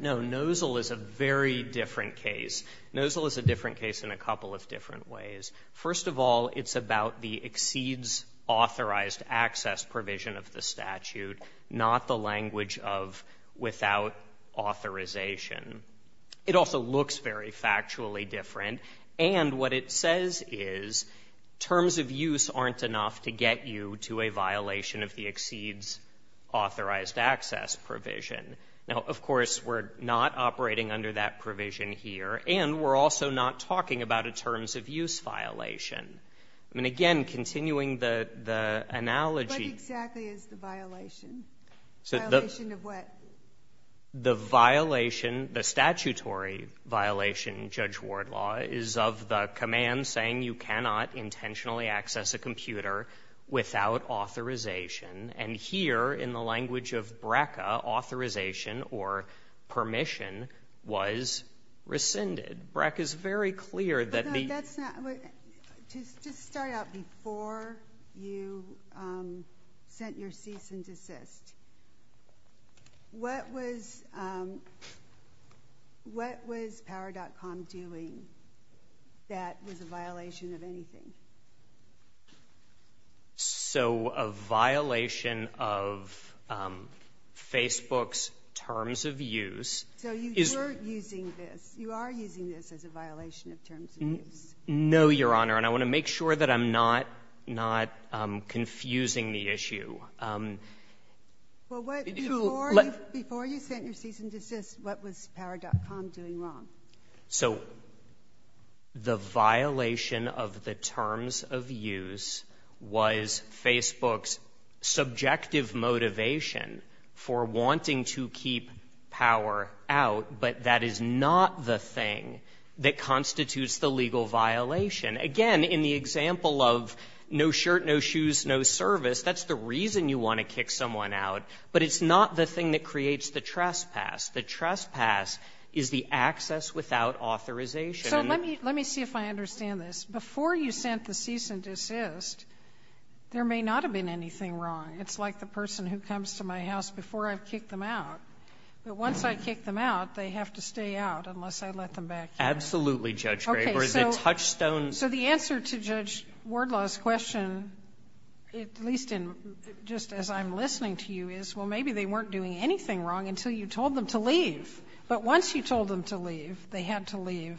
No, NOZL is a very different case. NOZL is a different case in a couple of different ways. First of all, it's about the exceeds authorized access provision of the statute, not the language of without authorization. It also looks very factually different, and what it says is terms of use aren't enough to get you to a violation of the exceeds authorized access provision. Now, of course, we're not operating under that provision here, and we're also not talking about a terms of use violation. I mean, again, continuing the analogy. What exactly is the violation? The violation of what? The violation, the statutory violation, Judge Wardlaw, is of the command saying you cannot intentionally access a computer without authorization, and here, in the language of BRCA, authorization or permission was rescinded. BRCA is very clear that the... Just to start out, before you sent your cease and desist, what was Power.com doing that was a violation of anything? So a violation of Facebook's terms of use... So you were using this. You are using this as a violation of terms of use. No, Your Honor, and I want to make sure that I'm not confusing the issue. Well, before you sent your cease and desist, what was Power.com doing wrong? So the violation of the terms of use was Facebook's subjective motivation for wanting to keep power out, but that is not the thing that constitutes the legal violation. Again, in the example of no shirt, no shoes, no service, that's the reason you want to kick someone out, but it's not the thing that creates the trespass. The trespass is the access without authorization. So let me see if I understand this. Before you sent the cease and desist, there may not have been anything wrong. It's like the person who comes to my house before I kick them out. Once I kick them out, they have to stay out unless I let them back in. Absolutely, Judge Graber. So the answer to Judge Wardlaw's question, at least just as I'm listening to you, is, well, maybe they weren't doing anything wrong until you told them to leave. But once you told them to leave, they had to leave.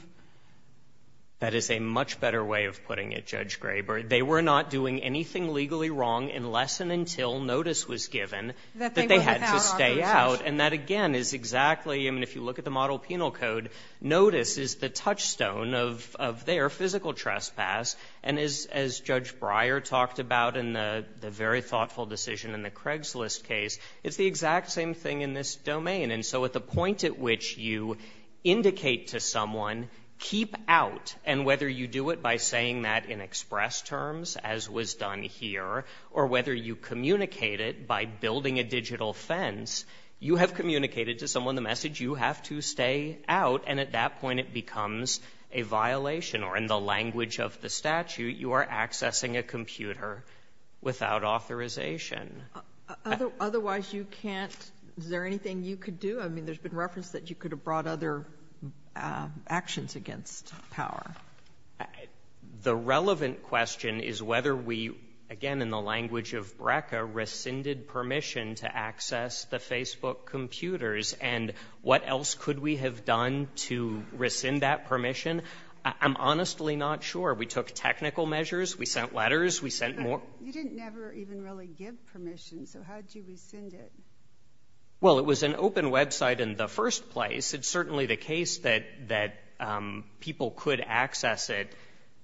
That is a much better way of putting it, Judge Graber. They were not doing anything legally wrong unless and until notice was given that they had to stay out. And that, again, is exactly, I mean, if you look at the model penal code, notice is the touchstone of their physical trespass. And as Judge Breyer talked about in the very thoughtful decision in the Craigslist case, it's the exact same thing in this domain. And so at the point at which you indicate to someone, keep out, and whether you do it by saying that in express terms, as was done here, or whether you communicate it by building a digital fence, you have communicated to someone the message you have to stay out, and at that point it becomes a violation, or in the language of the statute, you are accessing a computer without authorization. Otherwise you can't, is there anything you could do? I mean, there's been reference that you could have brought other actions against power. The relevant question is whether we, again, in the language of BRCA, rescinded permission to access the Facebook computers, and what else could we have done to rescind that permission? I'm honestly not sure. We took technical measures. We sent letters. We sent more. You didn't never even really give permission, so how did you rescind it? Well, it was an open website in the first place. It's certainly the case that people could access it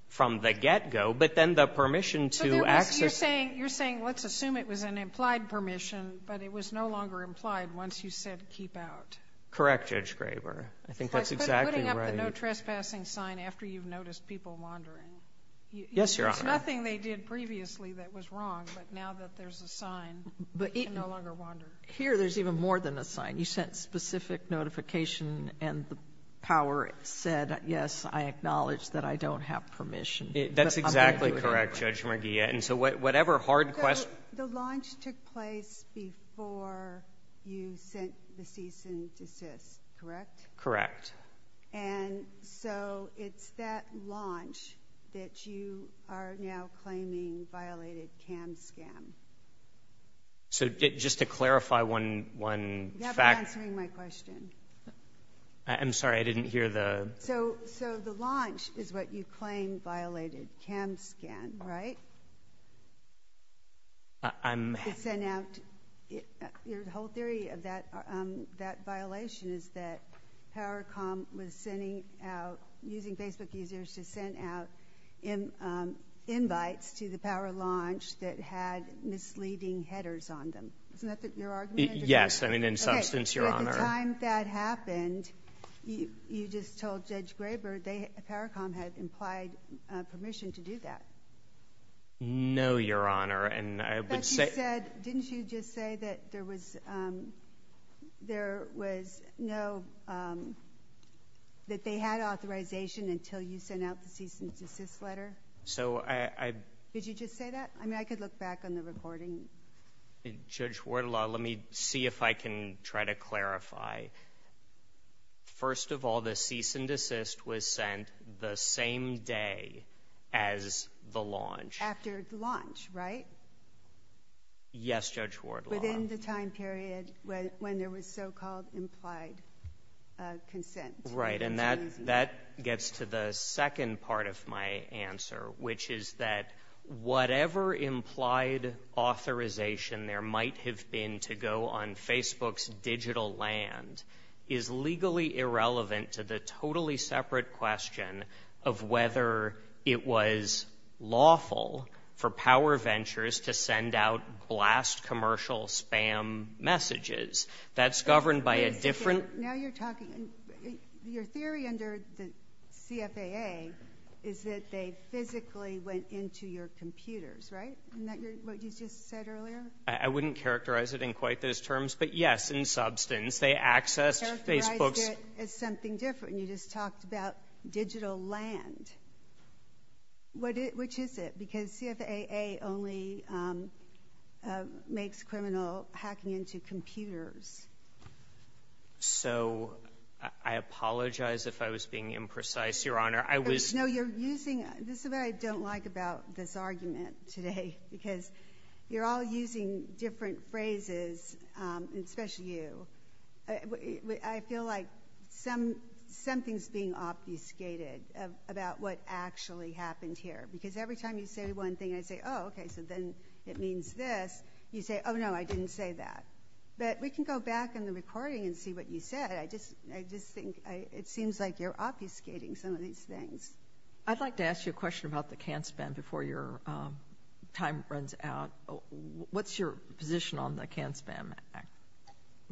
from the get-go, but then the permission to access it. You're saying let's assume it was an implied permission, but it was no longer implied once you said keep out. Correct, Judge Graber. I think that's exactly right. I couldn't have the no trespassing sign after you've noticed people wandering. Yes, Your Honor. There's nothing they did previously that was wrong, but now that there's a sign, they no longer wander. Here there's even more than a sign. You sent specific notification, and the power said, yes, I acknowledge that I don't have permission. That's exactly correct, Judge McGeehan. So whatever hard question. The launch took place before you sent the cease and desist, correct? Correct. And so it's that launch that you are now claiming violated CAMSCAN. So just to clarify one fact. You're not answering my question. I'm sorry. I didn't hear the – So the launch is what you claim violated CAMSCAN, right? I'm – The whole theory of that violation is that PowerCom was sending out – using Facebook users to send out invites to the power launch that had misleading headers on them. Isn't that your argument? Yes. I mean, in substance, Your Honor. At the time that happened, you just told Judge Graber that PowerCom had implied permission to do that. No, Your Honor. And I would say – But you said – didn't you just say that there was no – that they had authorization until you sent out the cease and desist letter? So I – Did you just say that? I mean, I could look back on the recording. Judge Wardlaw, let me see if I can try to clarify. First of all, the cease and desist was sent the same day as the launch. After its launch, right? Yes, Judge Wardlaw. Within the time period when there was so-called implied consent. Right, and that gets to the second part of my answer, which is that whatever implied authorization there might have been to go on Facebook's digital land is legally irrelevant to the totally separate question of whether it was lawful for PowerVentures to send out blast commercial spam messages. That's governed by a different – Now you're talking – your theory under the CFAA is that they physically went into your computers, right? Isn't that what you just said earlier? I wouldn't characterize it in quite those terms. But, yes, in substance, they accessed Facebook's – You said something different. You just talked about digital land. Which is it? Because CFAA only makes criminal hacking into computers. So I apologize if I was being imprecise, Your Honor. No, you're using – this is what I don't like about this argument today, because you're all using different phrases, especially you. I feel like something's being obfuscated about what actually happened here. Because every time you say one thing, I say, oh, okay, so then it means this. You say, oh, no, I didn't say that. But we can go back in the recording and see what you said. I just think it seems like you're obfuscating some of these things. I'd like to ask you a question about the can spam before your time runs out. What's your position on the can spam?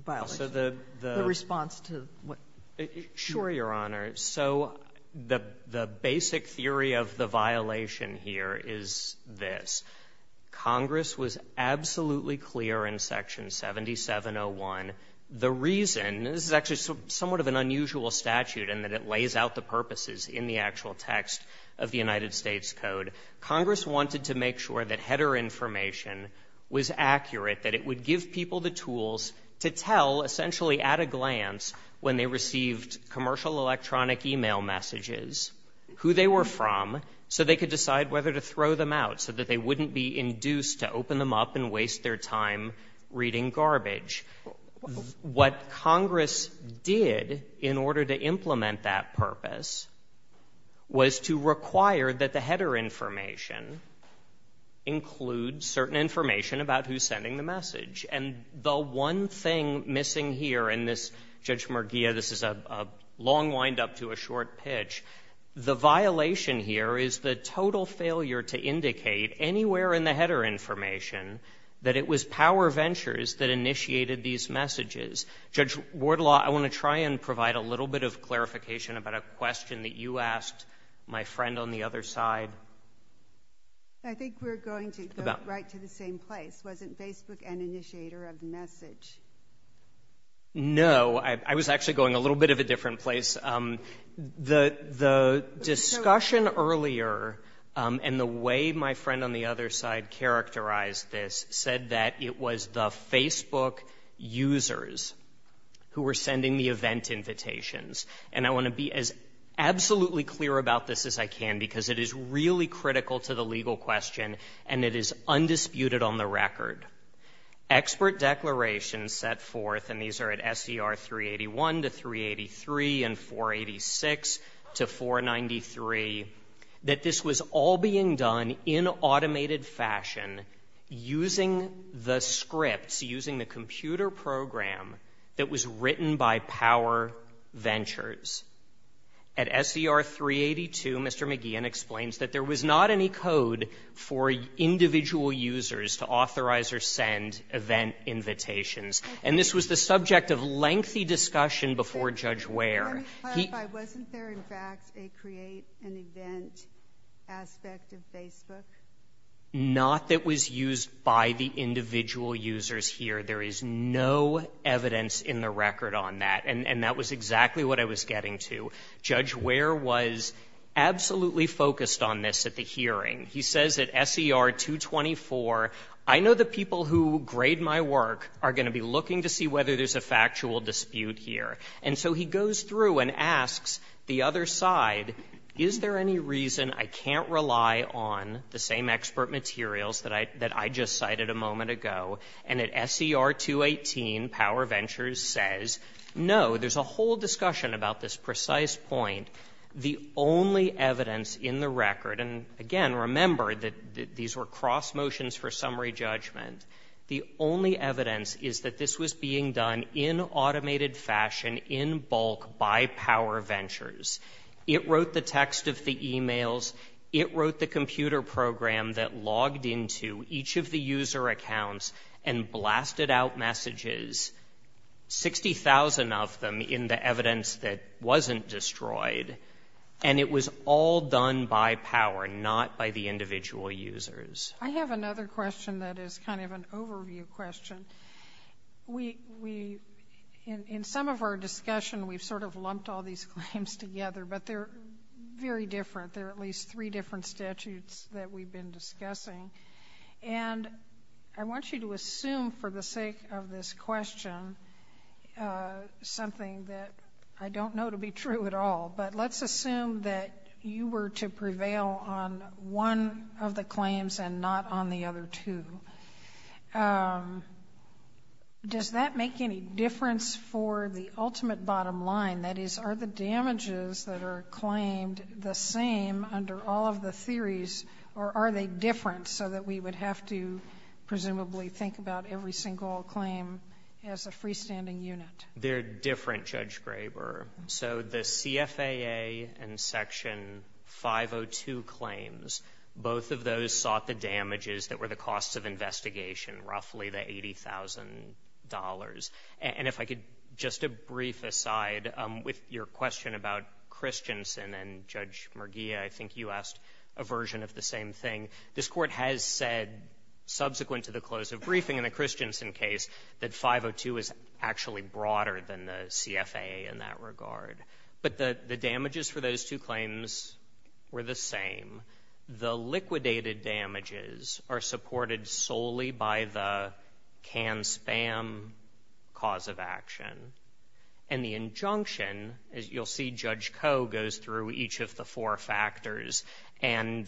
The response to what – Sure, Your Honor. So the basic theory of the violation here is this. Congress was absolutely clear in Section 7701. The reason – this is actually somewhat of an unusual statute in that it lays out the purposes in the actual text of the United States Code. Congress wanted to make sure that header information was accurate, that it would give people the tools to tell, essentially at a glance, when they received commercial electronic email messages, who they were from so they could decide whether to throw them out so that they wouldn't be induced to open them up and waste their time reading garbage. What Congress did in order to implement that purpose was to require that the header information include certain information about who's sending the message. And the one thing missing here in this – Judge Merguia, this is a long wind-up to a short pitch. The violation here is the total failure to indicate anywhere in the header information that it was power ventures that initiated these messages. Judge Wardlaw, I want to try and provide a little bit of clarification about a question that you asked my friend on the other side. I think we're going to go right to the same place. Wasn't Facebook an initiator of the message? No. I was actually going a little bit of a different place. The discussion earlier and the way my friend on the other side characterized this said that it was the Facebook users who were sending the event invitations. And I want to be as absolutely clear about this as I can because it is really critical to the legal question and it is undisputed on the record. Expert declarations set forth, and these are at SCR 381 to 383 and 486 to 493, that this was all being done in automated fashion using the scripts, using the computer program that was written by power ventures. At SCR 382, Mr. McGeehan explains that there was not any code for individual users to authorize or send event invitations. And this was the subject of lengthy discussion before Judge Ware. Wasn't there, in fact, a create an event aspect of Facebook? Not that was used by the individual users here. There is no evidence in the record on that, and that was exactly what I was getting to. Judge Ware was absolutely focused on this at the hearing. He says at SCR 224, I know the people who grade my work are going to be looking to see whether there's a factual dispute here. And so he goes through and asks the other side, is there any reason I can't rely on the same expert materials that I just cited a moment ago? And at SCR 218, Power Ventures says, no, there's a whole discussion about this precise point. The only evidence in the record, and again, remember that these were cross motions for summary judgment. The only evidence is that this was being done in automated fashion, in bulk, by Power Ventures. It wrote the text of the emails. It wrote the computer program that logged into each of the user accounts and blasted out messages, 60,000 of them in the evidence that wasn't destroyed. And it was all done by Power, not by the individual users. I have another question that is kind of an overview question. In some of our discussion, we've sort of lumped all these claims together, but they're very different. They're at least three different statutes that we've been discussing. And I want you to assume, for the sake of this question, something that I don't know to be true at all. But let's assume that you were to prevail on one of the claims and not on the other two. Does that make any difference for the ultimate bottom line? That is, are the damages that are claimed the same under all of the theories, or are they different so that we would have to presumably think about every single claim as a freestanding unit? They're different, Judge Graber. So the CFAA and Section 502 claims, both of those sought the damages that were the cost of investigation, roughly the $80,000. And if I could, just a brief aside, with your question about Christensen and Judge Merguia, I think you asked a version of the same thing. This Court has said, subsequent to the close of briefing in the Christensen case, that 502 is actually broader than the CFAA in that regard. But the damages for those two claims were the same. The liquidated damages are supported solely by the canned spam cause of action. And the injunction, as you'll see, Judge Koh goes through each of the four factors and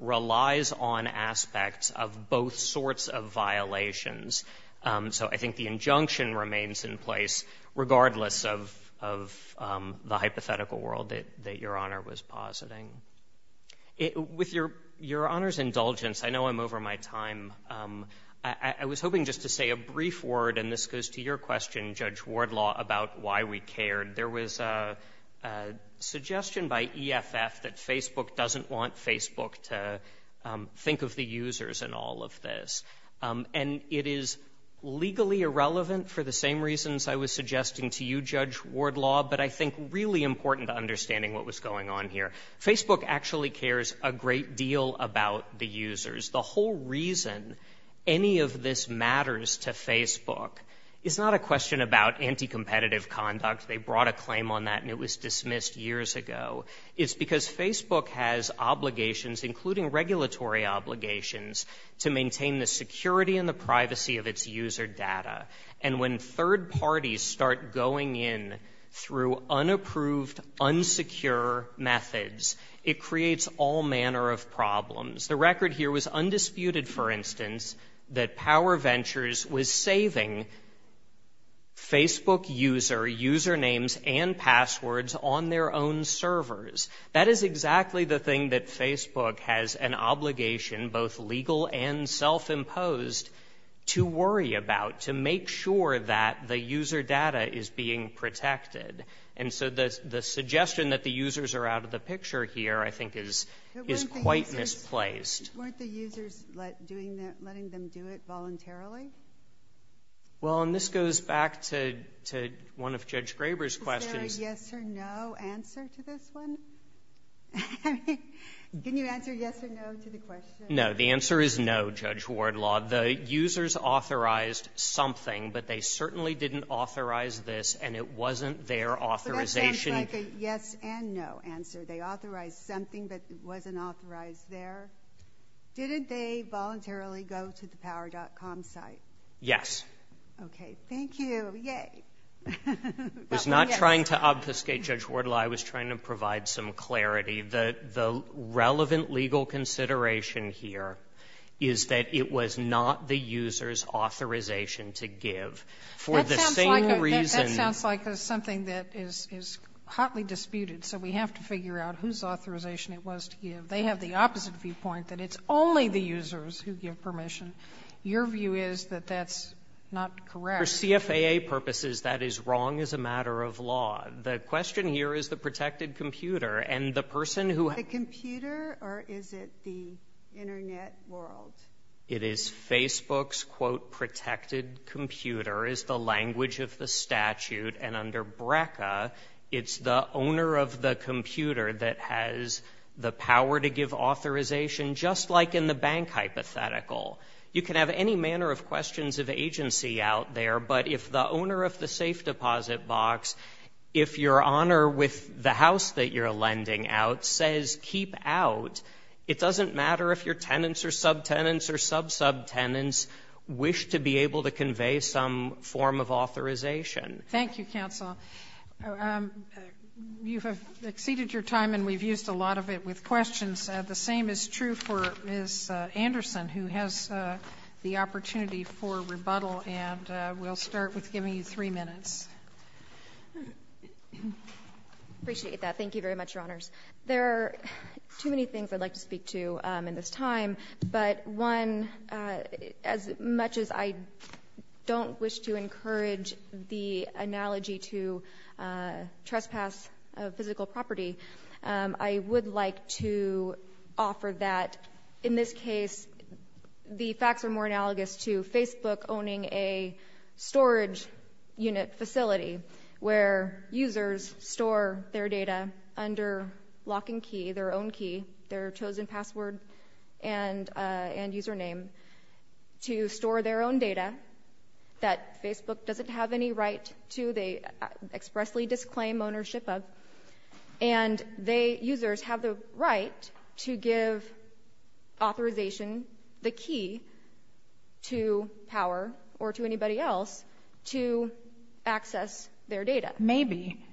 relies on aspects of both sorts of violations. So I think the injunction remains in place, regardless of the hypothetical world that Your Honor was positing. With Your Honor's indulgence, I know I'm over my time. I was hoping just to say a brief word, and this goes to your question, Judge Wardlaw, about why we cared. There was a suggestion by EFF that Facebook doesn't want Facebook to think of the users in all of this. And it is legally irrelevant for the same reasons I was suggesting to you, Judge Wardlaw, but I think really important to understanding what was going on here. Facebook actually cares a great deal about the users. The whole reason any of this matters to Facebook is not a question about anti-competitive conduct. They brought a claim on that and it was dismissed years ago. It's because Facebook has obligations, including regulatory obligations, to maintain the security and the privacy of its user data. And when third parties start going in through unapproved, unsecure methods, it creates all manner of problems. The record here was undisputed, for instance, that PowerVentures was saving Facebook user usernames and passwords on their own servers. That is exactly the thing that Facebook has an obligation, both legal and self-imposed, to worry about, to make sure that the user data is being protected. And so the suggestion that the users are out of the picture here, I think, is quite misplaced. Weren't the users letting them do it voluntarily? Well, and this goes back to one of Judge Graber's questions. Is there a yes or no answer to this one? Didn't you answer yes or no to the question? No, the answer is no, Judge Wardlaw. The users authorized something, but they certainly didn't authorize this and it wasn't their authorization. So that sounds like a yes and no answer. They authorized something, but it wasn't authorized there. Didn't they voluntarily go to the Power.com site? Yes. Okay. Thank you. Yay. I was not trying to obfuscate, Judge Wardlaw. I was trying to provide some clarity. The relevant legal consideration here is that it was not the user's authorization to give. That sounds like something that is hotly disputed, so we have to figure out whose authorization it was to give. They have the opposite viewpoint, that it's only the users who give permission. Your view is that that's not correct. For CFAA purposes, that is wrong as a matter of law. The question here is the protected computer, and the person who – The computer, or is it the Internet world? It is Facebook's, quote, protected computer, is the language of the statute, and under BRCA, it's the owner of the computer that has the power to give authorization, just like in the bank hypothetical. You can have any manner of questions of agency out there, but if the owner of the safe deposit box, if your owner with the house that you're lending out says keep out, it doesn't matter if your tenants or subtenants or sub-subtenants wish to be able to convey some form of authorization. Thank you, counsel. You have exceeded your time, and we've used a lot of it with questions. The same is true for Ms. Anderson, who has the opportunity for rebuttal, and we'll start with giving you three minutes. I appreciate that. Thank you very much, Your Honors. There are too many things I'd like to speak to in this time, but one, as much as I don't wish to encourage the analogy to trespass of physical property, I would like to offer that, in this case, the facts are more analogous to Facebook owning a storage unit facility where users store their data under lock and key, their own key, their chosen password and username, to store their own data that Facebook doesn't have any right to. They expressly disclaim ownership of, and they, users, have the right to give authorization, the key, to power or to anybody else to access their data. Maybe,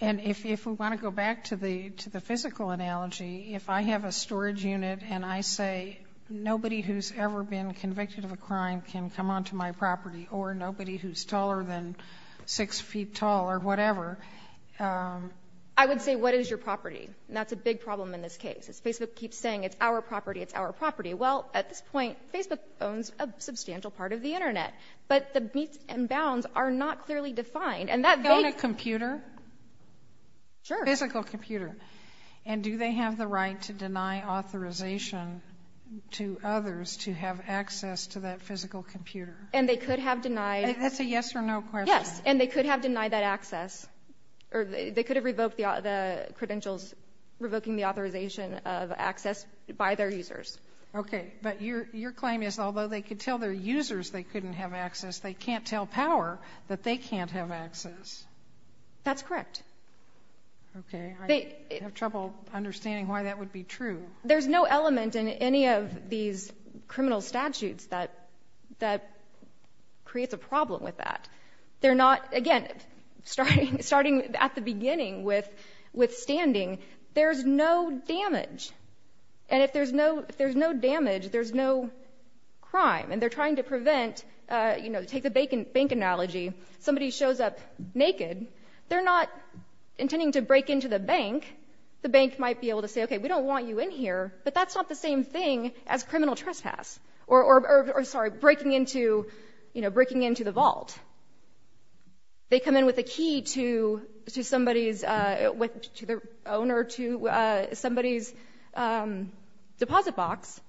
and if we want to go back to the physical analogy, if I have a storage unit and I say, nobody who's ever been convicted of a crime can come onto my property or nobody who's taller than six feet tall or whatever. I would say, what is your property? And that's a big problem in this case. Facebook keeps saying, it's our property, it's our property. Well, at this point, Facebook owns a substantial part of the Internet, but the beats and bounds are not clearly defined. Own a computer? Sure. Physical computer. And do they have the right to deny authorization to others to have access to that physical computer? And they could have denied. That's a yes or no question. Yes, and they could have denied that access, or they could have revoked the credentials, revoking the authorization of access by their users. Okay, but your claim is although they could tell their users they couldn't have access, they can't tell power that they can't have access. That's correct. Okay, I have trouble understanding why that would be true. There's no element in any of these criminal statutes that creates a problem with that. Again, starting at the beginning with standing, there's no damage. And if there's no damage, there's no crime. And they're trying to prevent, you know, to take a bank analogy, somebody shows up naked, they're not intending to break into the bank. The bank might be able to say, okay, we don't want you in here, but that's not the same thing as criminal trespass or breaking into the vault. They come in with a key to somebody's, to their owner, to somebody's deposit box.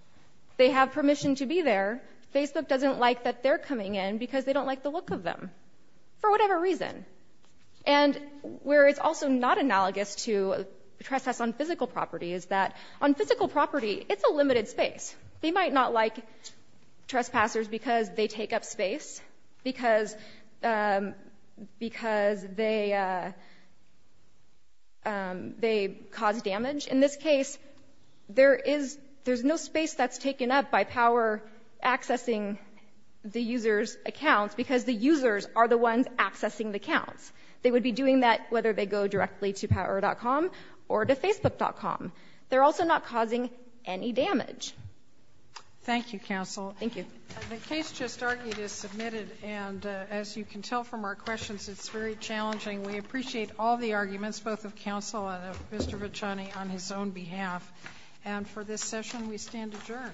They have permission to be there. FACEP doesn't like that they're coming in because they don't like the look of them for whatever reason. And where it's also not analogous to trespass on physical property is that on physical property, it's a limited space. They might not like trespassers because they take up space, because they cause damage. Which, in this case, there's no space that's taken up by Power accessing the user's account because the users are the ones accessing the account. They would be doing that whether they go directly to Power.com or to Facebook.com. They're also not causing any damage. Thank you, counsel. Thank you. The case just argued is submitted, and as you can tell from our questions, it's very challenging. We appreciate all the arguments, both of counsel and of Mr. Vicani, on his own behalf. And for this session, we stand adjourned.